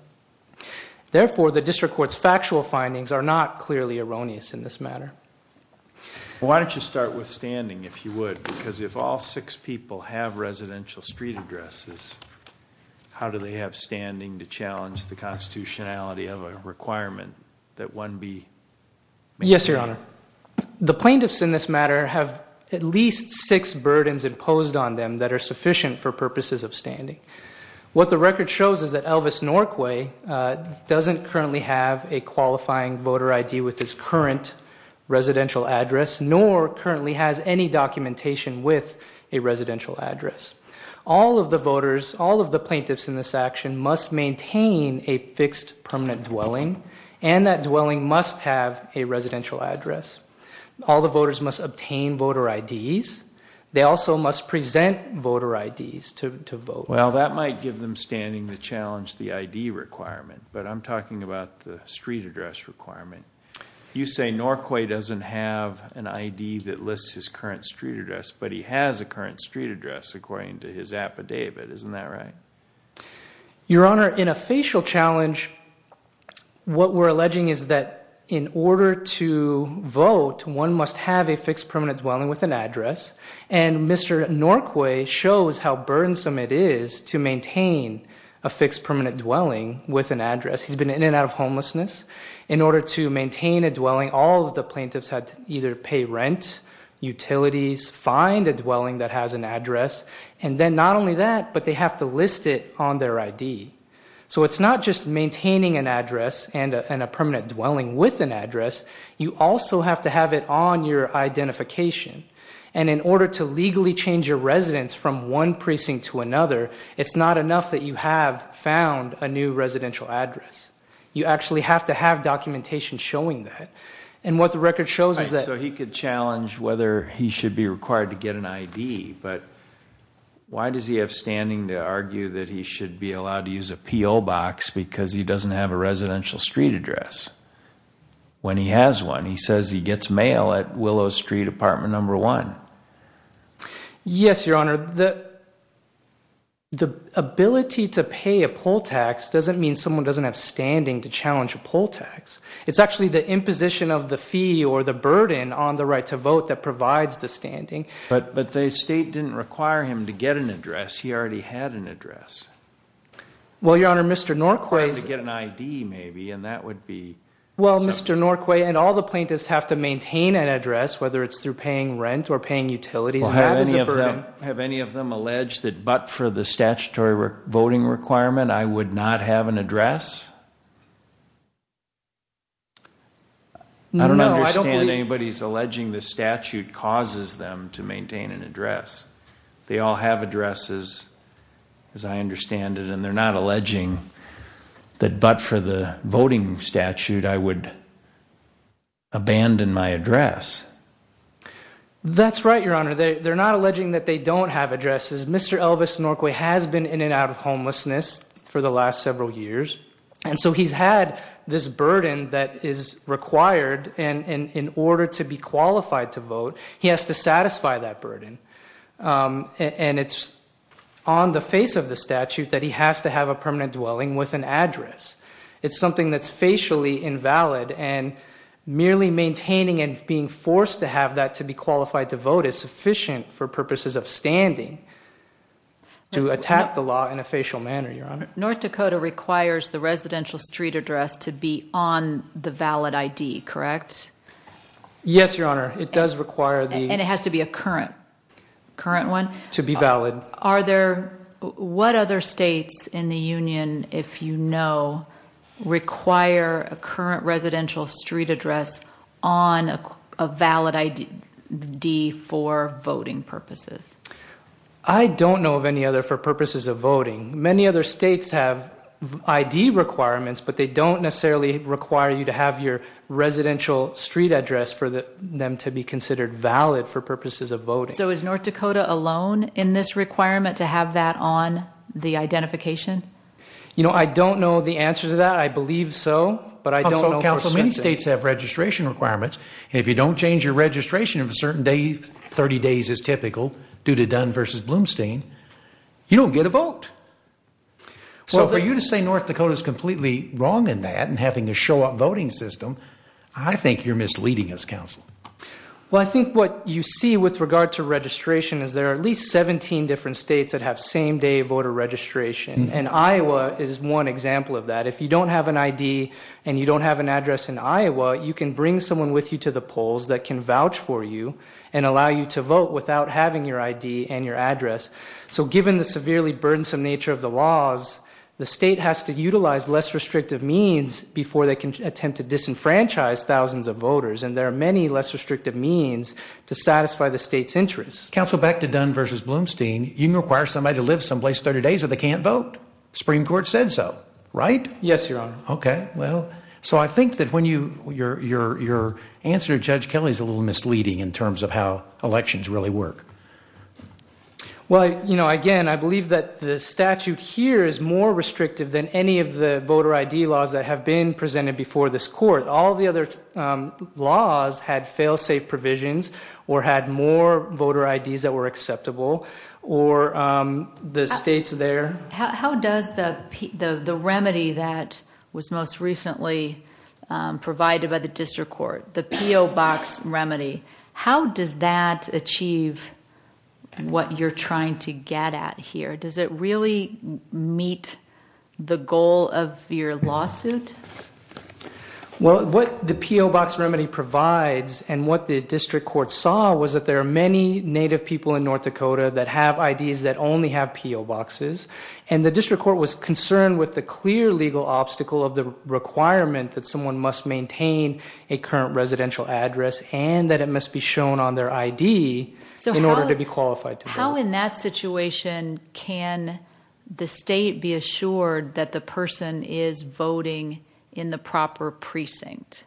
Therefore, the District Court's factual findings are not clearly erroneous in this matter. Why don't you start with standing, if you would, because if all six people have residential street addresses, how do they have standing to challenge the constitutionality of a requirement that one be... Yes, Your Honor. The plaintiffs in this matter have at least six burdens imposed on them that are sufficient for purposes of standing. What the record shows is that Elvis Norquay doesn't currently have a qualifying voter ID with his current residential address, nor currently has any documentation with a residential address. All of the voters, all of the plaintiffs in this action, must maintain a fixed permanent dwelling, and that dwelling must have a residential address. All the voters must obtain voter IDs. They also must present voter IDs to vote. Well, that might give them standing to challenge the ID requirement, but I'm talking about the street address requirement. You say Norquay doesn't have an ID that lists his current street address, but he has a current street address, according to his affidavit. Isn't that right? Your Honor, in a facial challenge, what we're alleging is that in order to vote, one must have a fixed permanent dwelling with an address, and Mr. Norquay shows how burdensome it is to maintain a fixed permanent dwelling with an address. He's been in and out of homelessness. In order to maintain a dwelling, all of the plaintiffs had to either pay rent, utilities, find a dwelling that has an address, and then not only that, but they have to list it on their ID. So it's not just maintaining an address and a permanent dwelling with an address. You also have to have it on your identification, and in order to legally change your residence from one precinct to another, it's not enough that you have found a new residential address. You actually have to have documentation showing that, and what the record shows is that... So he could challenge whether he should be required to get an ID, but why does he have standing to argue that he should be allowed to use a P.O. box because he doesn't have a residential street address when he has one? He says he gets mail at Willow Street, apartment number one. Yes, Your Honor. The ability to pay a poll tax doesn't mean someone doesn't have standing to challenge a poll tax. It's actually the imposition of the fee or the burden on the right to vote that provides the standing. But the state didn't require him to get an address. He already had an address. Well, Your Honor, Mr. Norquay... ...to get an ID, maybe, and that would be... Well, Mr. Norquay, and all the plaintiffs have to maintain an address, whether it's through paying rent or paying utilities. Have any of them alleged that but for the statutory voting requirement, I would not have an address? No, I don't believe... I don't understand anybody alleging the statute causes them to maintain an address. They all have addresses, as I understand it, and they're not alleging that but for the voting statute, I would abandon my address. That's right, Your Honor. They're not alleging that they don't have addresses. Mr. Elvis Norquay has been in and out of homelessness for the last several years, and so he's had this burden that is required and in order to be qualified to vote, he has to satisfy that burden. And it's on the face of the statute that he has to have a permanent dwelling with an address. It's something that's facially invalid, and merely maintaining and being forced to have that to be qualified to vote is sufficient for purposes of standing to attack the law in a facial manner, Your Honor. North Dakota requires the residential street address to be on the valid ID, correct? Yes, Your Honor. It does require the... And it has to be a current one? It should be valid. What other states in the Union, if you know, require a current residential street address on a valid ID for voting purposes? I don't know of any other for purposes of voting. Many other states have ID requirements, but they don't necessarily require you to have your residential street address for them to be considered valid for purposes of voting. So is North Dakota alone in this requirement to have that on the identification? You know, I don't know the answer to that. I believe so, but I don't know for certain. Many states have registration requirements, and if you don't change your registration of a certain day, 30 days is typical, due to Dunn v. Blumstein, you don't get a vote. So for you to say North Dakota is completely wrong in that and having a show-up voting system, I think you're misleading us, Counselor. Well, I think what you see with regard to registration is there are at least 17 different states that have same-day voter registration, and Iowa is one example of that. If you don't have an ID and you don't have an ID, you can't bring someone with you to the polls that can vouch for you and allow you to vote without having your ID and your address. So given the severely burdensome nature of the laws, the state has to utilize less restrictive means before they can attempt to disenfranchise thousands of voters, and there are many less restrictive means to satisfy the state's interests. Counselor, back to Dunn v. Blumstein, you require somebody to live someplace 30 days or they can't vote. The Supreme Court said so, right? Yes, Your Honor. Okay, well, so I think that when you, your answer to Judge Kelly is a little misleading in terms of how elections really work. Well, you know, again, I believe that the statute here is more restrictive than any of the voter ID laws that have been presented before this Court. All the other laws had fail-safe provisions or had more voter IDs that were acceptable or the states there... How does the remedy that was most recently provided by the District Court, the P.O. Box remedy, how does that achieve what you're trying to get at here? Does it really meet the goal of your lawsuit? Well, what the P.O. Box remedy provides and what the District Court saw was that there are many Native people in North Dakota that have IDs that only have P.O. Boxes, and the District Court was concerned with the clear legal obstacle of the requirement that someone must maintain a current residential address and that it must be shown on their ID in order to be qualified to vote. How in that situation can the state be assured that the person is voting in the proper precinct?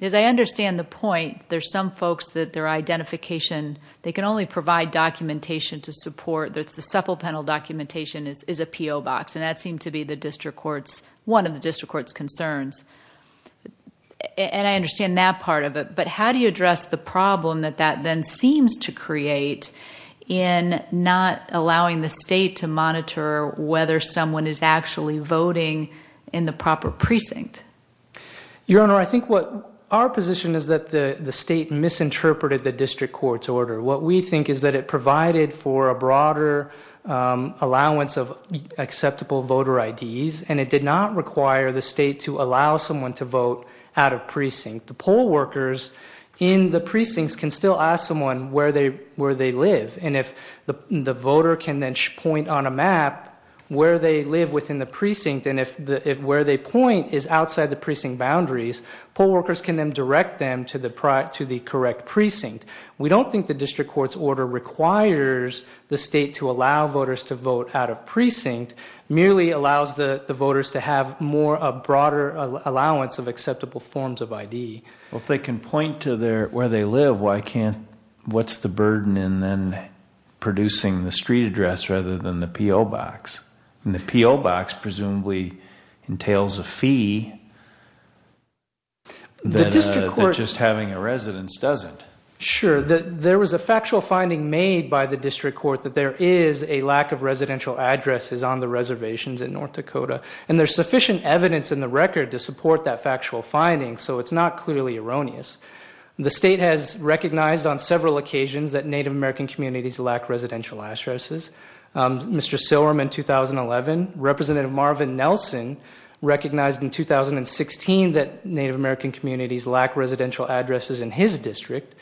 As I understand the point, there's some folks that their identification, they can only provide documentation to support the supplemental documentation is a P.O. Box, and that seemed to be the District Court's, one of the District Court's concerns. And I understand that part of it, but how do you address the problem that that then seems to create in not allowing the state to monitor whether someone is actually voting in the proper precinct? Your Honor, I think what our position is that the state misinterpreted the District Court's order. What we think is that it provided for a broader allowance of acceptable voter IDs, and it did not require the state to allow someone to vote out of precinct. The poll workers in the precincts can still ask someone where they live, and if the voter can then point on a map where they live within the precinct, and if where they point is outside the precinct boundaries, poll workers can then direct them to the correct address. So the fact that it requires the state to allow voters to vote out of precinct merely allows the voters to have more of a broader allowance of acceptable forms of ID. Well, if they can point to where they live, why can't, what's the burden in then producing the street address rather than the P.O. Box? And the P.O. Box presumably entails a fee that just having a residence doesn't. Sure, there was a factual finding made by the district court that there is a lack of residential addresses on the reservations in North Dakota, and there's sufficient evidence in the record to support that factual finding, so it's not clearly erroneous. The state has recognized on several occasions that Native American communities lack residential addresses. Mr. Silberman in 2011, Representative Marvin Nelson recognized in 2016 that Native American communities lack residential addresses in his district.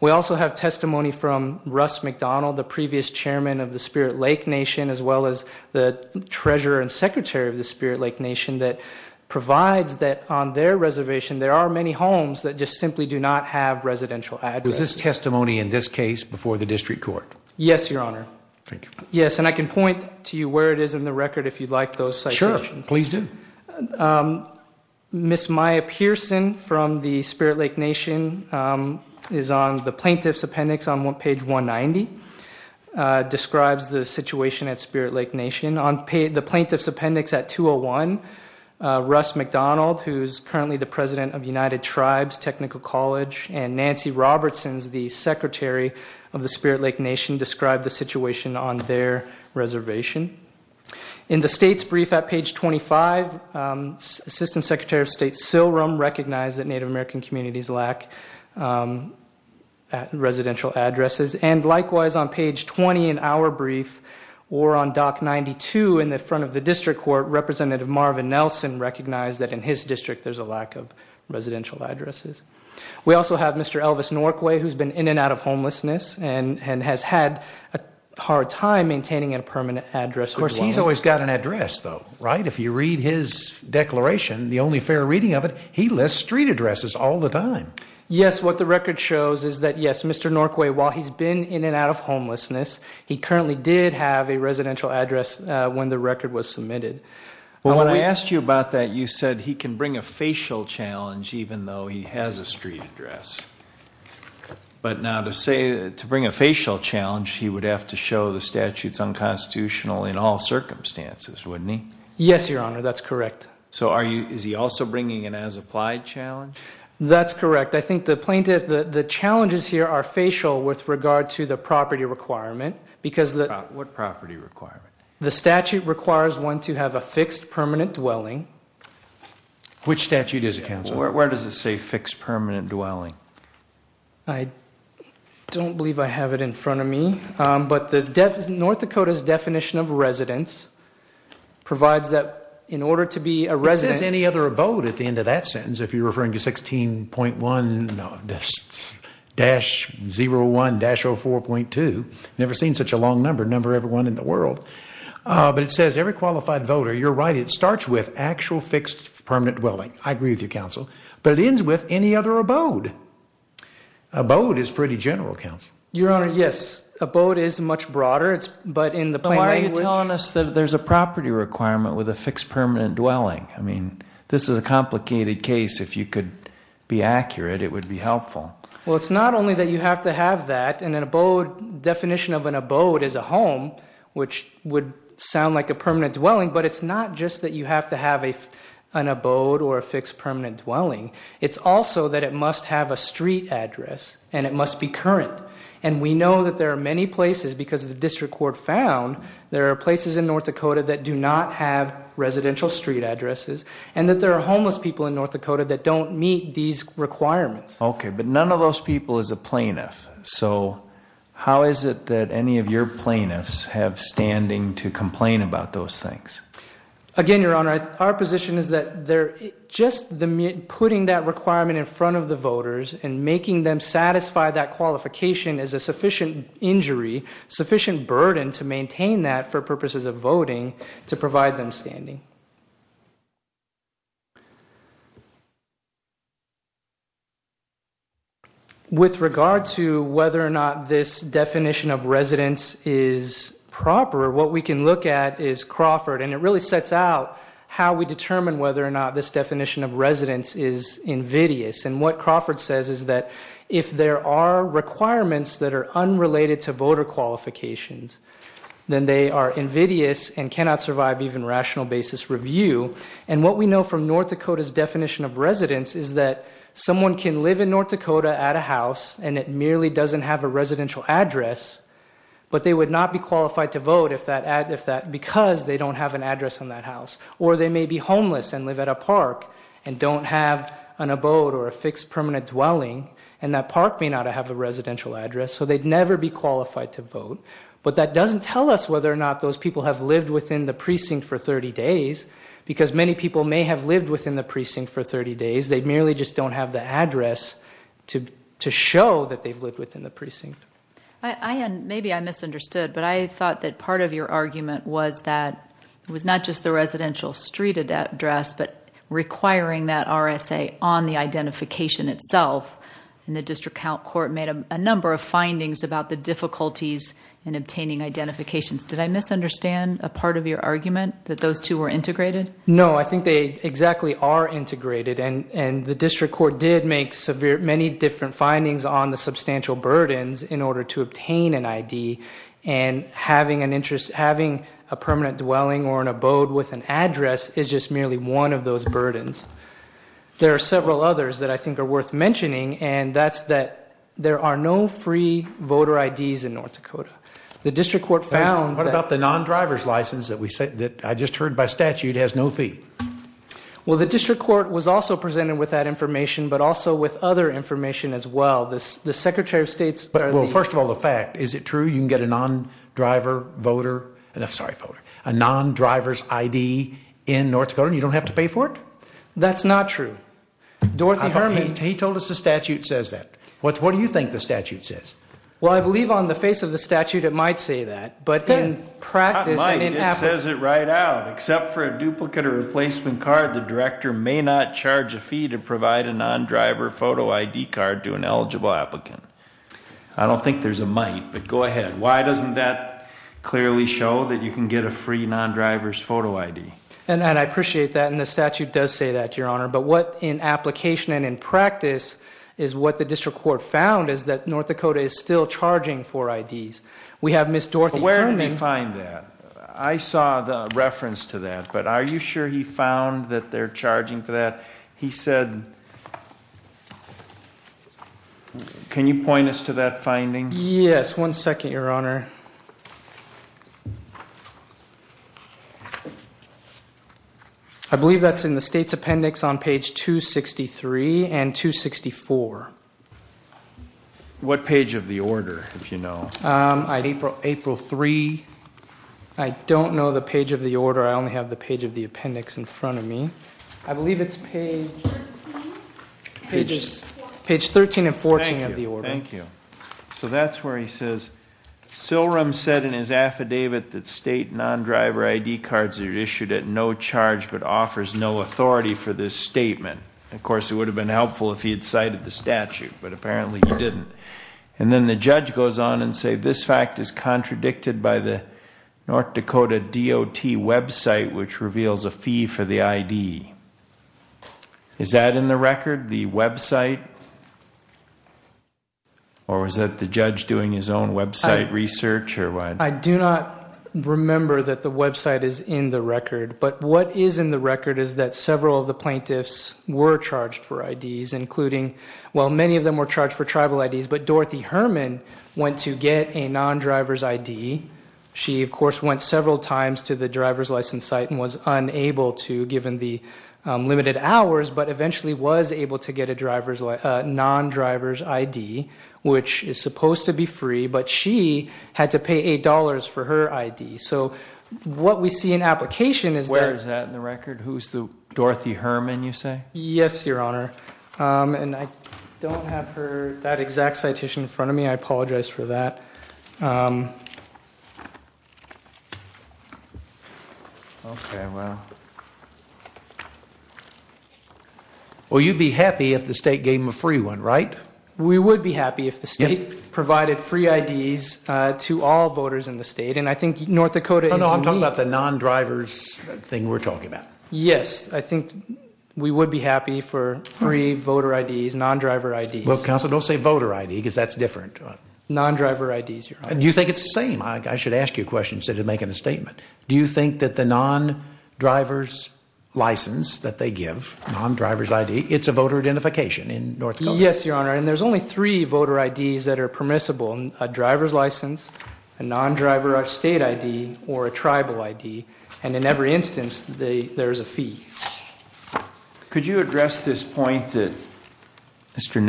We also have testimony from Russ McDonald, the previous chairman of the Spirit Lake Nation, as well as the treasurer and secretary of the Spirit Lake Nation that provides that on their reservation there are many homes that just simply do not have residential addresses. Is this testimony in this case before the district court? Yes, Your Honor. Thank you. Yes, and I can point to you where it is in the record if you'd like those citations. Sure, please do. Ms. Maya Pearson from the Spirit Lake Nation is on the plaintiff's appendix on page 190, describes the situation at Spirit Lake Nation. On the plaintiff's appendix at 201, Russ McDonald, who is currently the president of United Tribes Technical College, and Nancy Robertson, the secretary of the Spirit Lake Nation, described the situation on their reservation. In the state's brief at page 25, Assistant Secretary of State Silrum recognized that Native American communities lack residential addresses, and likewise on page 20 in our brief, or on doc 92 in the front of the district court, Representative Marvin Nelson recognized that in his district there's a lack of residential addresses. We also have Mr. Elvis Norquay who's been in and out of homelessness and has had a hard time maintaining a permanent address. Of course, he's always got an address, though, right? If you read his declaration, the only fair reading of it, he lists street addresses all the time. Yes, what the record shows is that yes, Mr. Norquay, while he's been in and out of homelessness, he currently did have a residential address when the record was submitted. When I asked you about that, you said he can bring a facial challenge even though he has a street address. But now to say, to bring a facial challenge, he would have to show the statute's unconstitutional in all circumstances, wouldn't he? Yes, Your Honor, that's correct. Is he also bringing an as-applied challenge? That's correct. I think the challenges here are facial with regard to the property requirement. What property requirement? The statute requires one to have a fixed permanent dwelling. Which statute does it cancel? Where does it say fixed permanent dwelling? I don't believe I have it in front of me. North Dakota's definition of residence provides that in order to be a resident... It doesn't have any other abode at the end of that sentence if you're referring to 16.1 dash 01-04.2. Never seen such a long number, number everyone in the world. But it says every qualified voter, you're right, it starts with actual fixed permanent dwelling. I agree with you, counsel. But it ends with any other abode. Abode is pretty general, counsel. Your Honor, yes. Abode is much broader, but in the plain language... Why are you telling us that there's a property requirement with a fixed permanent dwelling? This is a complicated case. If you could be accurate, it would be helpful. Well, it's not only that you have to have that. The definition of an abode is a home, which would sound like a permanent dwelling, but it's not just that you have to have an abode or a fixed permanent dwelling. It's also that it must have a street address and it must be current. And we know that there are many places because of the district court found, there are places in North Dakota that do not have residential street addresses and that there are homeless people in North Dakota that don't meet these requirements. Okay, but none of those people is a plaintiff. So how is it that any of your plaintiffs have standing to complain about those things? Again, Your Honor, our position is that just putting that requirement in front of the voters and making them satisfy that qualification is a sufficient injury, sufficient burden to maintain that for purposes of voting to provide them standing. With regard to whether or not this definition of residence is proper, what we can look at is Crawford, and it really sets out how we determine whether or not this definition of residence is invidious. And what Crawford says is that if there are requirements that are unrelated to voter qualifications, then they are invidious and cannot survive even rational basis review. And what we know from North Dakota's definition of residence is that someone can live in North Dakota at a house and it merely doesn't have a residential address, but they would not be qualified to vote because they don't have an address in that house. Or they may be homeless and live at a park and don't have an abode or a fixed permanent dwelling, and that park may not have a residential address, so they'd never be qualified to vote. But that doesn't tell us whether or not those people have lived within the precinct for 30 days because many people may have lived within the precinct for 30 days. They merely just don't have the address to show that they've lived within the precinct. Maybe I misunderstood, but I thought that part of your argument was not just the residential street address, but requiring that RSA on the identification itself, and the district count court made a number of findings about the difficulties in obtaining identifications. Did I misunderstand a part of your argument that those two were integrated? No, I think they exactly are integrated, and the district court did make many different findings on the substantial burdens in order to obtain an ID, and having a permanent dwelling or an abode with an address is just merely one of those burdens. There are several others that I think are worth mentioning, and that's that there are no free voter IDs in North Dakota. What about the non-driver's license that I just heard by statute has no fee? Well, the district court was also presented with that information, but also with other information as well. First of all, the fact. Is it a non-driver's ID in North Dakota and you don't have to pay for it? That's not true. He told us the statute says that. What do you think the statute says? Well, I believe on the face of the statute it might say that. It says it right out. Except for a duplicate or replacement card, the director may not charge a fee to provide a non-driver photo ID card to an eligible applicant. I don't think there's a might, but go ahead. Why doesn't that clearly show that you can get a free non-driver's photo ID? I appreciate that, and the statute does say that to your honor, but what in application and in practice is what the district court found is that North Dakota is still charging for IDs. Where did they find that? I saw the reference to that, but are you sure he found that they're charging for that? He said... Can you one second, your honor? I believe that's in the state's appendix on page 263 and 264. What page of the order, if you know? April 3. I don't know the page of the order. I only have the page of the appendix in front of me. I believe it's page... Page 13 and 14 of the order. Thank you. That's where he says, Silrum said in his affidavit that state non-driver ID cards are issued at no charge, but offers no authority for this statement. Of course, it would have been helpful if he had cited the statute, but apparently he didn't. Then the judge goes on and says this fact is contradicted by the North Dakota DOT website, which reveals a fee for the ID. Is that in the record, the non-driver ID, or is that the judge doing his own website research? I do not remember that the website is in the record, but what is in the record is that several of the plaintiffs were charged for IDs, including well, many of them were charged for tribal IDs, but Dorothy Herman went to get a non-driver's ID. She, of course, went several times to the driver's license site and was unable to, given the limited hours, but eventually was able to get a non-driver's ID, which is supposed to be free, but she had to pay $8 for her ID. So what we see in application is... Where is that in the record? Who's the Dorothy Herman, you say? Yes, Your Honor. I don't have that exact citation in front of me. I apologize for that. Okay, well... Well, you'd be happy if the state gave them a free one, right? We would be happy if the state provided free IDs to all voters in the state, and I think North Dakota... No, no, I'm talking about the non-driver's thing we're talking about. Yes, I think we would be happy for free voter IDs, non-driver IDs. Well, counsel, don't say voter ID, because that's different. Non-driver IDs, Your Honor. Do you think it's the same? I should ask you a question instead of making a statement. Do you think that the non-driver's license that they give, non-driver's ID, it's a voter identification in North Dakota? Yes, Your Honor, and there's only three voter IDs that are permissible, a driver's license, a non-driver state ID, or a tribal ID, and in every instance there's a fee. Could you address this point that Mr.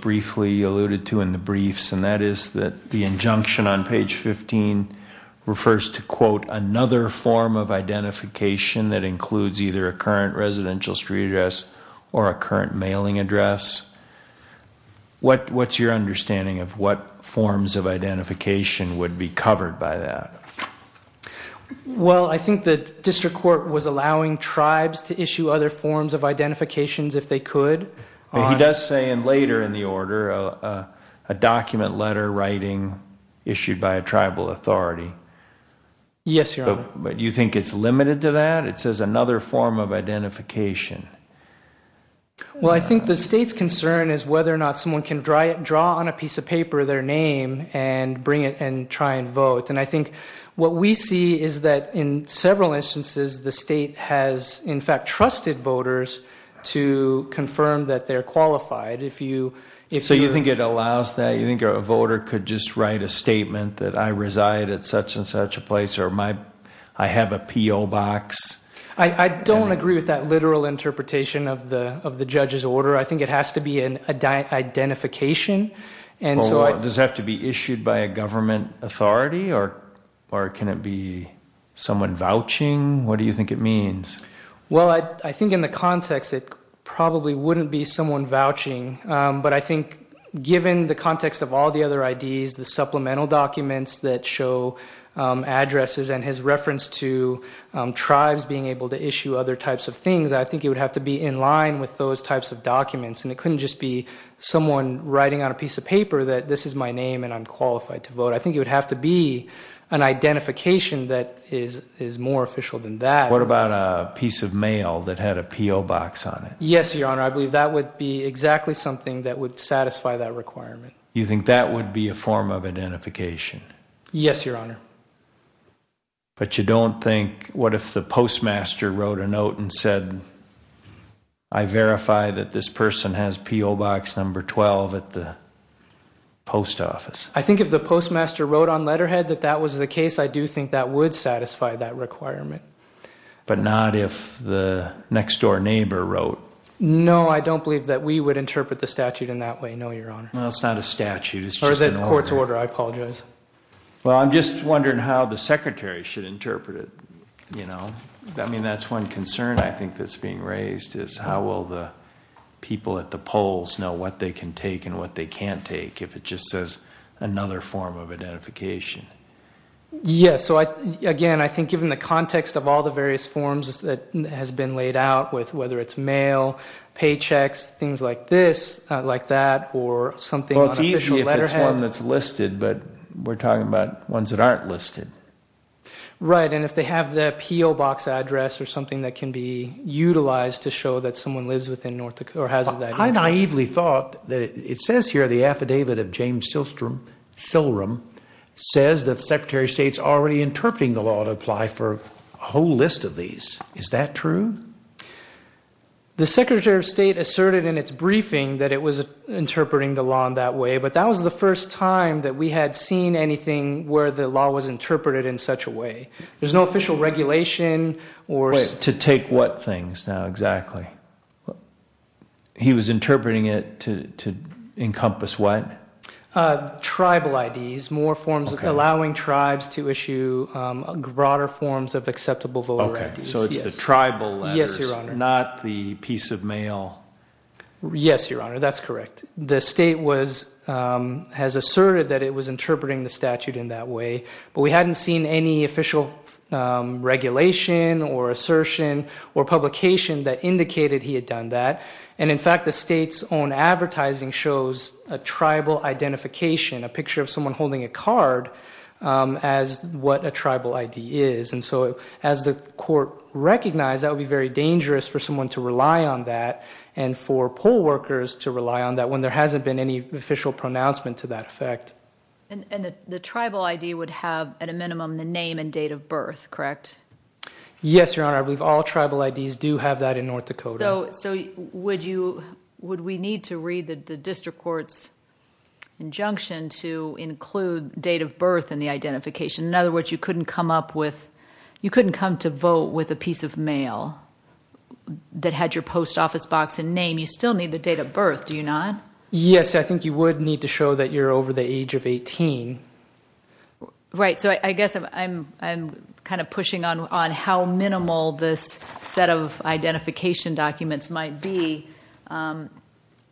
Briefly alluded to in the briefs, and that is that the injunction on page 15 refers to, quote, another form of identification that includes either a current residential street address or a current mailing address? What's your understanding of what forms of identification would be covered by that? Well, I think the district court was allowing tribes to issue other forms of identifications if they could. He does say later in the order a document letter writing issued by a tribal authority. Yes, Your Honor. Do you think it's limited to that? It says another form of identification. Well, I think the state's concern is whether or not someone can draw on a piece of paper their name and bring it and try and vote, and I think what we see is that in several instances the state has in fact trusted voters to confirm that they're qualified. So you think it allows that? You think a voter could just write a statement that I reside at such and such a place or I have a P.O. box? I don't agree with that literal interpretation of the judge's order. I think it has to be an identification. Does it have to be issued by a government authority or can it be someone vouching? What do you think it means? Well, I think in the context it probably wouldn't be someone vouching, but I think given the context of all the other IDs, the supplemental documents that show addresses and has reference to tribes being able to issue other types of things, I think it would have to be in line with those types of documents, and it couldn't just be someone writing on a piece of paper that this is my name and I'm qualified to vote. I think it would have to be an identification that is more official than that. What about a piece of mail that had a P.O. box on it? Yes, Your Honor. I believe that would be exactly something that would satisfy that requirement. You think that would be a form of identification? Yes, Your Honor. But you don't think, what if the postmaster wrote a note and said I verify that this person has P.O. box number 12 at the post office? I think if the postmaster wrote on letterhead that that was the case, I do think that would satisfy that requirement. But not if the next door neighbor wrote? No, I don't believe that we would interpret the statute in that way, no, Your Honor. No, it's not a statute, it's just an order. It's a court's order, I apologize. I'm just wondering how the secretary should interpret it. That's one concern I think that's being raised, is how will the people at the polls know what they can take and what they can't take, if it's just another form of identification. Yes, so again, I think given the context of all the various forms that have been laid out, whether it's mail, paychecks, things like this, like that, or something on official letterhead. Well, it's easy if it's one that's listed, but we're talking about ones that aren't listed. Right, and if they have the P.O. box address or something that can be utilized to show that someone lives within North Dakota or has that address. I naively thought that it says here the affidavit of James Sillrum says that the Secretary of State's already interpreting the law to apply for a whole list of these. Is that true? The Secretary of State asserted in its briefing that it was interpreting the law in that way, but that was the first time that we had seen anything where the law was interpreted in such a way. There's no official regulation or... To take what things now, exactly. He was interpreting it to encompass what? Tribal IDs, more forms of allowing tribes to issue broader forms of acceptable voter IDs. So it's the tribal letters, not the piece of mail. Yes, Your Honor, that's correct. The state has asserted that it was interpreting the statute in that way, but we hadn't seen any official regulation or assertion or publication that indicated he had done that. In fact, the state's own advertising shows a tribal identification, a picture of someone holding a card, as what a tribal ID is. As the court recognized, that would be very dangerous for someone to rely on that, and for poll workers to rely on that when there hasn't been any official pronouncement to that effect. The tribal ID would have, at a minimum, the name and date of birth, correct? Yes, Your Honor. I believe all tribal IDs do have that in North Dakota. Would we need to read the district court's injunction to include date of birth in the identification? In other words, you couldn't come up with you couldn't come to vote with a piece of mail that had your post office box and name. You still need the date of birth, do you not? Yes, I think you would need to show that you're over the age of 18. Right, so I guess I'm kind of pushing on how minimal this set of identification documents might be.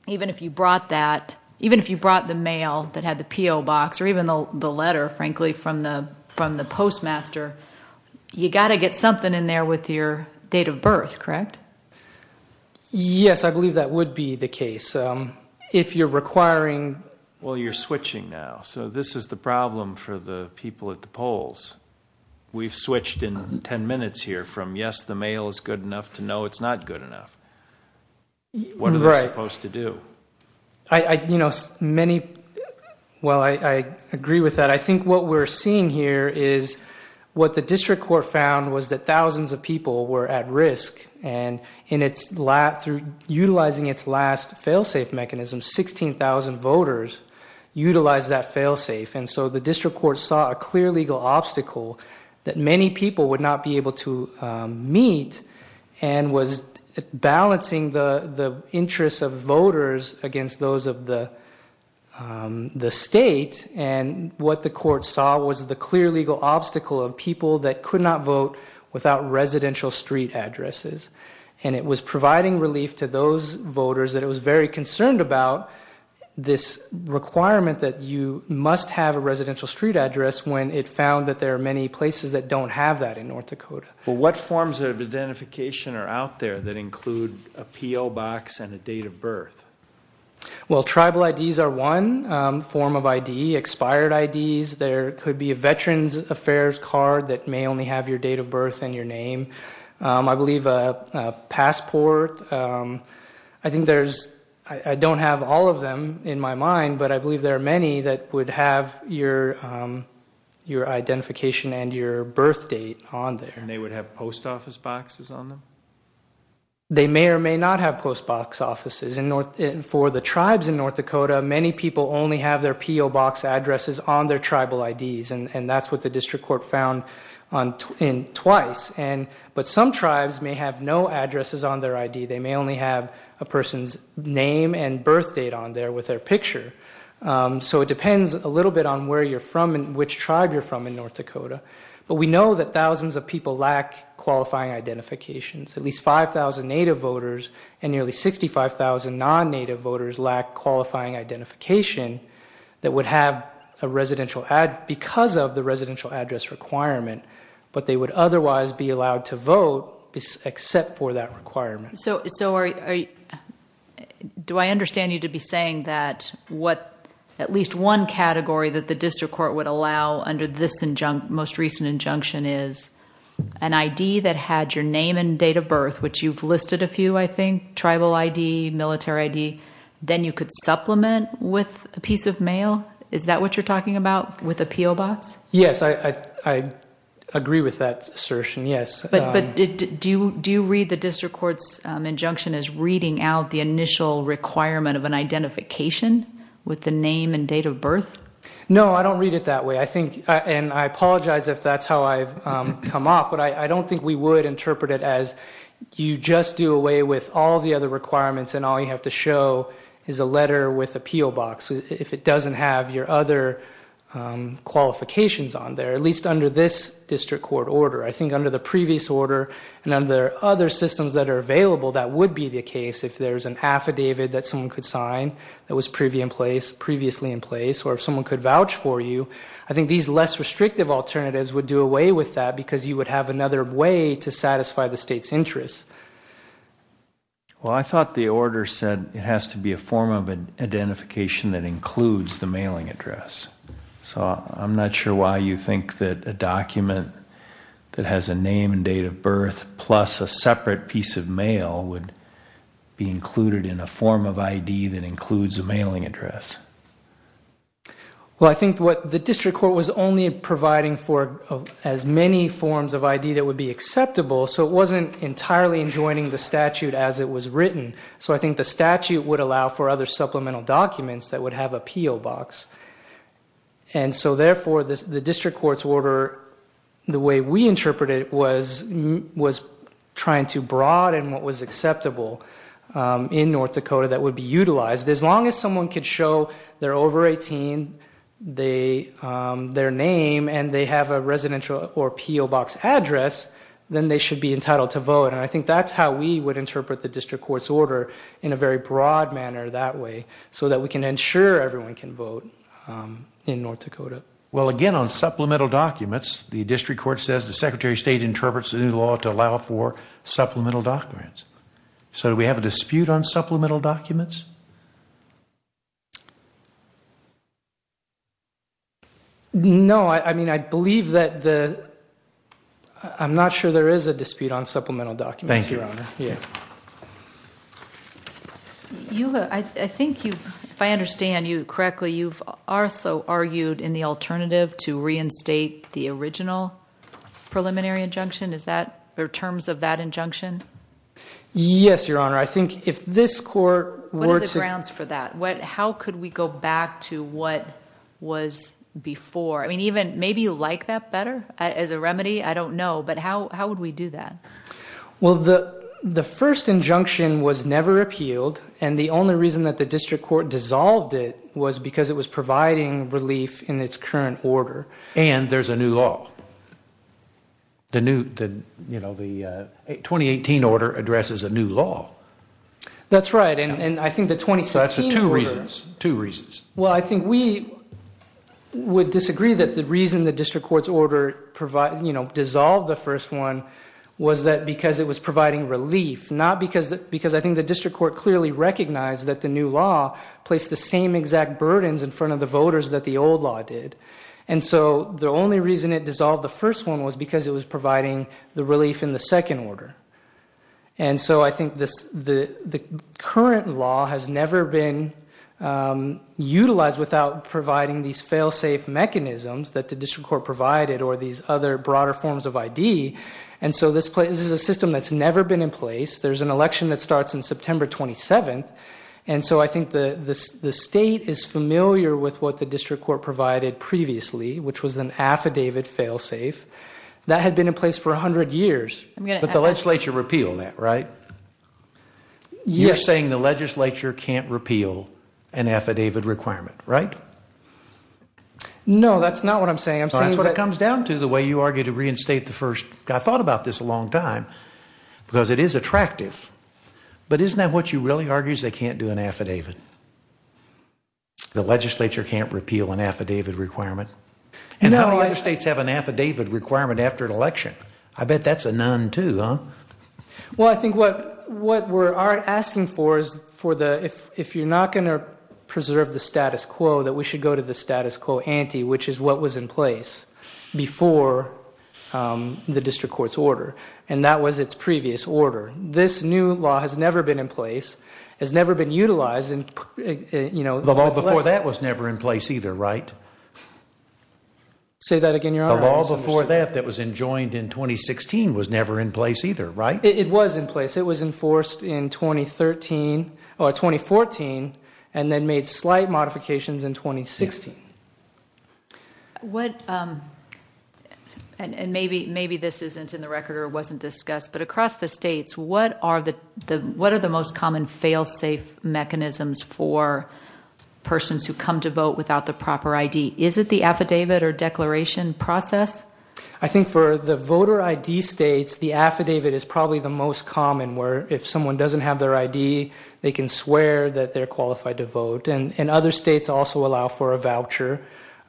Even if you brought that, even if you brought the mail that had the PO box, or even the letter, frankly, from the postmaster, you've got to get something in there with your date of birth, correct? Yes, I believe that would be the case if you're requiring Well, you're switching now. So this is the problem for the people at the polls. We've got 10 minutes here from yes, the mail is good enough to no, it's not good enough. What are we supposed to do? Right. Well, I agree with that. I think what we're seeing here is what the district court found was that thousands of people were at risk, and in its last, through utilizing its last fail-safe mechanism, 16,000 voters utilized that fail-safe, and so the district court saw a clear legal obstacle that many people would not be able to meet, and was balancing the interests of voters against those of the state, and what the court saw was the clear legal obstacle of people that could not vote without residential street addresses, and it was providing relief to those voters that it was very concerned about this requirement that you must have a residential street address when it found that there are many places that don't have that in North Dakota. What forms of identification are out there that include a PO box and a date of birth? Well, tribal IDs are one form of ID, expired IDs. There could be a Veterans Affairs card that may only have your date of birth and your name. I believe a passport. I think there's I don't have all of them in my mind, but I believe there are many that would have your identification and your birth date on there. And they would have post office boxes on them? They may or may not have post box offices. For the tribes in North Dakota, many people only have their PO box addresses on their tribal IDs, and that's what the district court found twice, but some tribes may have no addresses on their ID. They may only have a person's name and birth date on there with their ID. It depends a little bit on where you're from and which tribe you're from in North Dakota, but we know that thousands of people lack qualifying identifications. At least 5,000 native voters and nearly 65,000 non-native voters lack qualifying identification that would have a residential address because of the residential address requirement, but they would otherwise be allowed to vote except for that requirement. Do I have one category that the district court would allow under this most recent injunction is an ID that had your name and date of birth, which you've listed a few, I think, tribal ID, military ID, then you could supplement with a piece of mail? Is that what you're talking about with a PO box? Yes, I agree with that assertion, yes. But do you read the district court's injunction as reading out the initial requirement of an ID with the name and date of birth? No, I don't read it that way. I apologize if that's how I've come off, but I don't think we would interpret it as you just do away with all the other requirements and all you have to show is a letter with a PO box if it doesn't have your other qualifications on there, at least under this district court order. I think under the previous order and under other systems that are available, that would be a case if there's an affidavit that someone could sign that was previously in place or if someone could vouch for you, I think these less restrictive alternatives would do away with that because you would have another way to satisfy the state's interest. Well, I thought the order said it has to be a form of identification that includes the mailing address. I'm not sure why you think that a document that has a name and date of birth plus a separate piece of mail would be included in a form of ID that includes a mailing address. Well, I think what the district court was only providing for as many forms of ID that would be acceptable so it wasn't entirely enjoining the statute as it was written. I think the statute would allow for other supplemental documents that would have a PO box. Therefore, the district court's order, the way we interpret it, was trying to broaden what was acceptable in North Dakota that would be utilized. As long as someone could show they're over 18, their name, and they have a residential or PO box address, then they should be entitled to vote. I think that's how we would interpret the district court's order in a very broad manner that way so that we can ensure everyone can vote in North Dakota. Well, again, on supplemental documents, the district court says the Secretary of State interprets the new law to allow for supplemental documents. Do we have a dispute on supplemental documents? No. I believe that the... I'm not sure there is a dispute on supplemental documents, Your Honor. Thank you. Eula, I think if I understand you correctly, you've also argued in the original preliminary injunction. Are there terms of that injunction? Yes, Your Honor. I think if this court were to... What are the grounds for that? How could we go back to what was before? Maybe you like that better as a remedy. I don't know, but how would we do that? Well, the first injunction was never appealed, and the only reason that the district court dissolved it was because it was providing relief in its current order. And there's a new law. The 2018 order addresses a new law. That's right. That's for two reasons. Well, I think we would disagree that the reason the district court's order dissolved the first one was that because it was providing relief, not because I think the district court clearly recognized that the new law placed the same exact burdens in front of the voters that the old law did. The only reason it dissolved the first one was because it was providing the relief in the second order. I think the current law has never been utilized without providing these fail-safe mechanisms that the district court provided or these other broader forms of ID. This is a system that's never been in place. There's an election that starts on September 27th. And so I think the state is familiar with what the district court provided previously, which was an affidavit fail-safe that had been in place for 100 years. But the legislature repealed that, right? Yes. You're saying the legislature can't repeal an affidavit requirement, right? No, that's not what I'm saying. That's what it comes down to, the way you argue to reinstate the first. I thought about this a long time because it is attractive. But isn't that what you really argue is they can't do an affidavit? The legislature can't repeal an affidavit requirement? And how do states have an affidavit requirement after an election? I bet that's a none too, huh? Well, I think what we're asking for is if you're not going to preserve the status quo, that we should go to the status quo ante, which is what was in place before the district court's order. And that was its previous order. This new law has never been in place. It's never been utilized. The law before that was never in place either, right? Say that again, Your Honor. The law before that that was enjoined in 2016 was never in place either, right? It was in place. It was enforced in 2014 and then made slight modifications in 2016. What... And maybe this isn't in the record or wasn't discussed, but across the states, what are the most common fail-safe mechanisms for persons who come to vote without the proper ID? Is it the affidavit or declaration process? I think for the voter ID states, the affidavit is probably the most common where if someone doesn't have their ID, they can swear that they're qualified to vote. And other states also allow for a voucher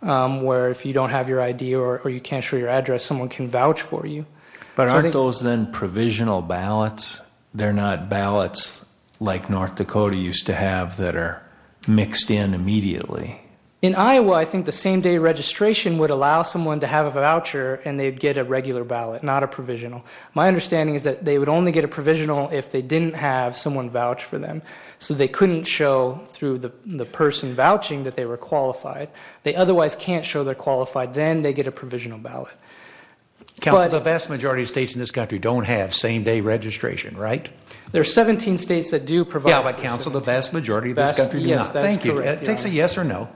where if you don't have your ID or you can't show your address, someone can vouch for you. But aren't those then provisional ballots? They're not ballots like North Dakota used to have that are mixed in immediately. In Iowa, I think the same day registration would allow someone to have a voucher and they'd get a regular ballot, not a provisional. My understanding is that they would only get a provisional if they didn't have someone vouch for them. So they couldn't show through the person vouching that they were qualified. They otherwise can't show they're qualified. Then they get a provisional ballot. The vast majority of states in this country don't have same-day registration, right? There are 17 states that do provide the vast majority of states. Thank you. It takes a yes or no.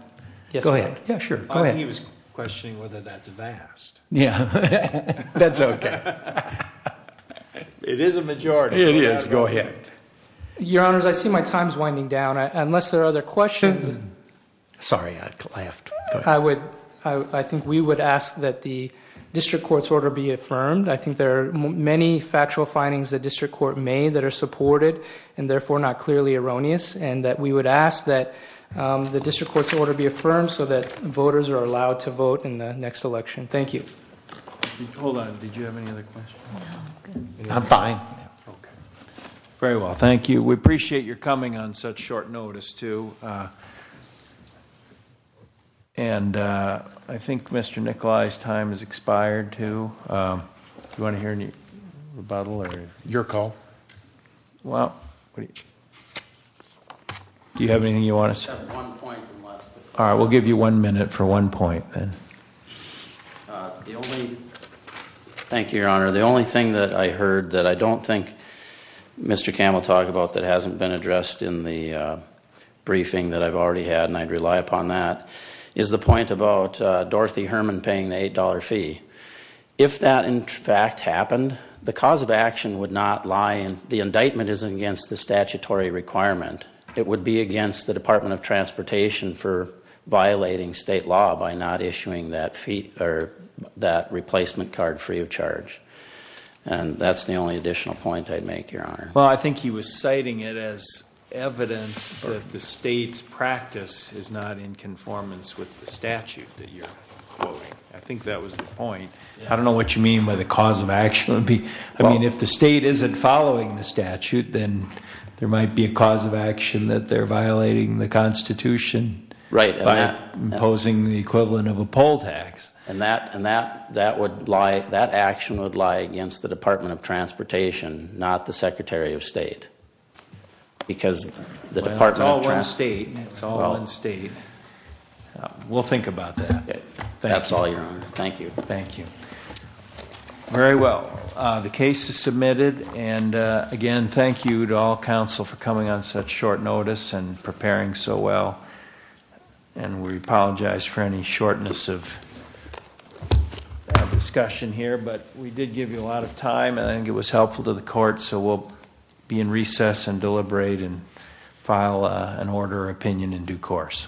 Go ahead. I thought he was questioning whether that's vast. That's okay. It is a majority. It is. Go ahead. Your Honor, I see my time is winding down. Unless there are other questions... Sorry. I think we would ask that the district court's order be affirmed. I think there are many factual findings the district court made that are supported and therefore not clearly erroneous and that we would ask that the district court's order be affirmed so that voters are allowed to vote in the next election. Thank you. Hold on. Did you have any other questions? I'm fine. Very well. Thank you. We appreciate your coming on such short notice too. I think Mr. Nicolai's time has expired too. Do you want to hear any rebuttal? Your call. Do you have anything you want to say? I have one point. We'll give you one minute for one point. Thank you, Your Honor. The only thing that I heard that I don't think Mr. Campbell talked about that hasn't been addressed in the briefing that I've already had and I'd rely upon that is the point about Dorothy Herman paying the $8 fee. If that in fact happened, the cause of action would not lie, the indictment isn't against the statutory requirement. It would be against the Department of Transportation for violating state law by not issuing that fee or that replacement card free of charge. That's the only additional point I'd make, Your Honor. I think he was citing it as evidence that the state's practice is not in conformance with the statute that you're quoting. I think that was the point. I don't know what you mean by the cause of action. If the state isn't following the statute, then there might be a cause of action that they're violating the Constitution by imposing the equivalent of a poll tax. That action would lie against the Department of Transportation, not the Secretary of State. It's all in state. We'll think about that. That's all, Your Honor. Thank you. Very well. The case is submitted. Again, thank you to all counsel for coming on such short notice and preparing so well. We apologize for any shortness of discussion here, but we did give you a lot of time. I think it was helpful to the court, so we'll be in recess and deliberate and file an order of opinion in due course. Thank you.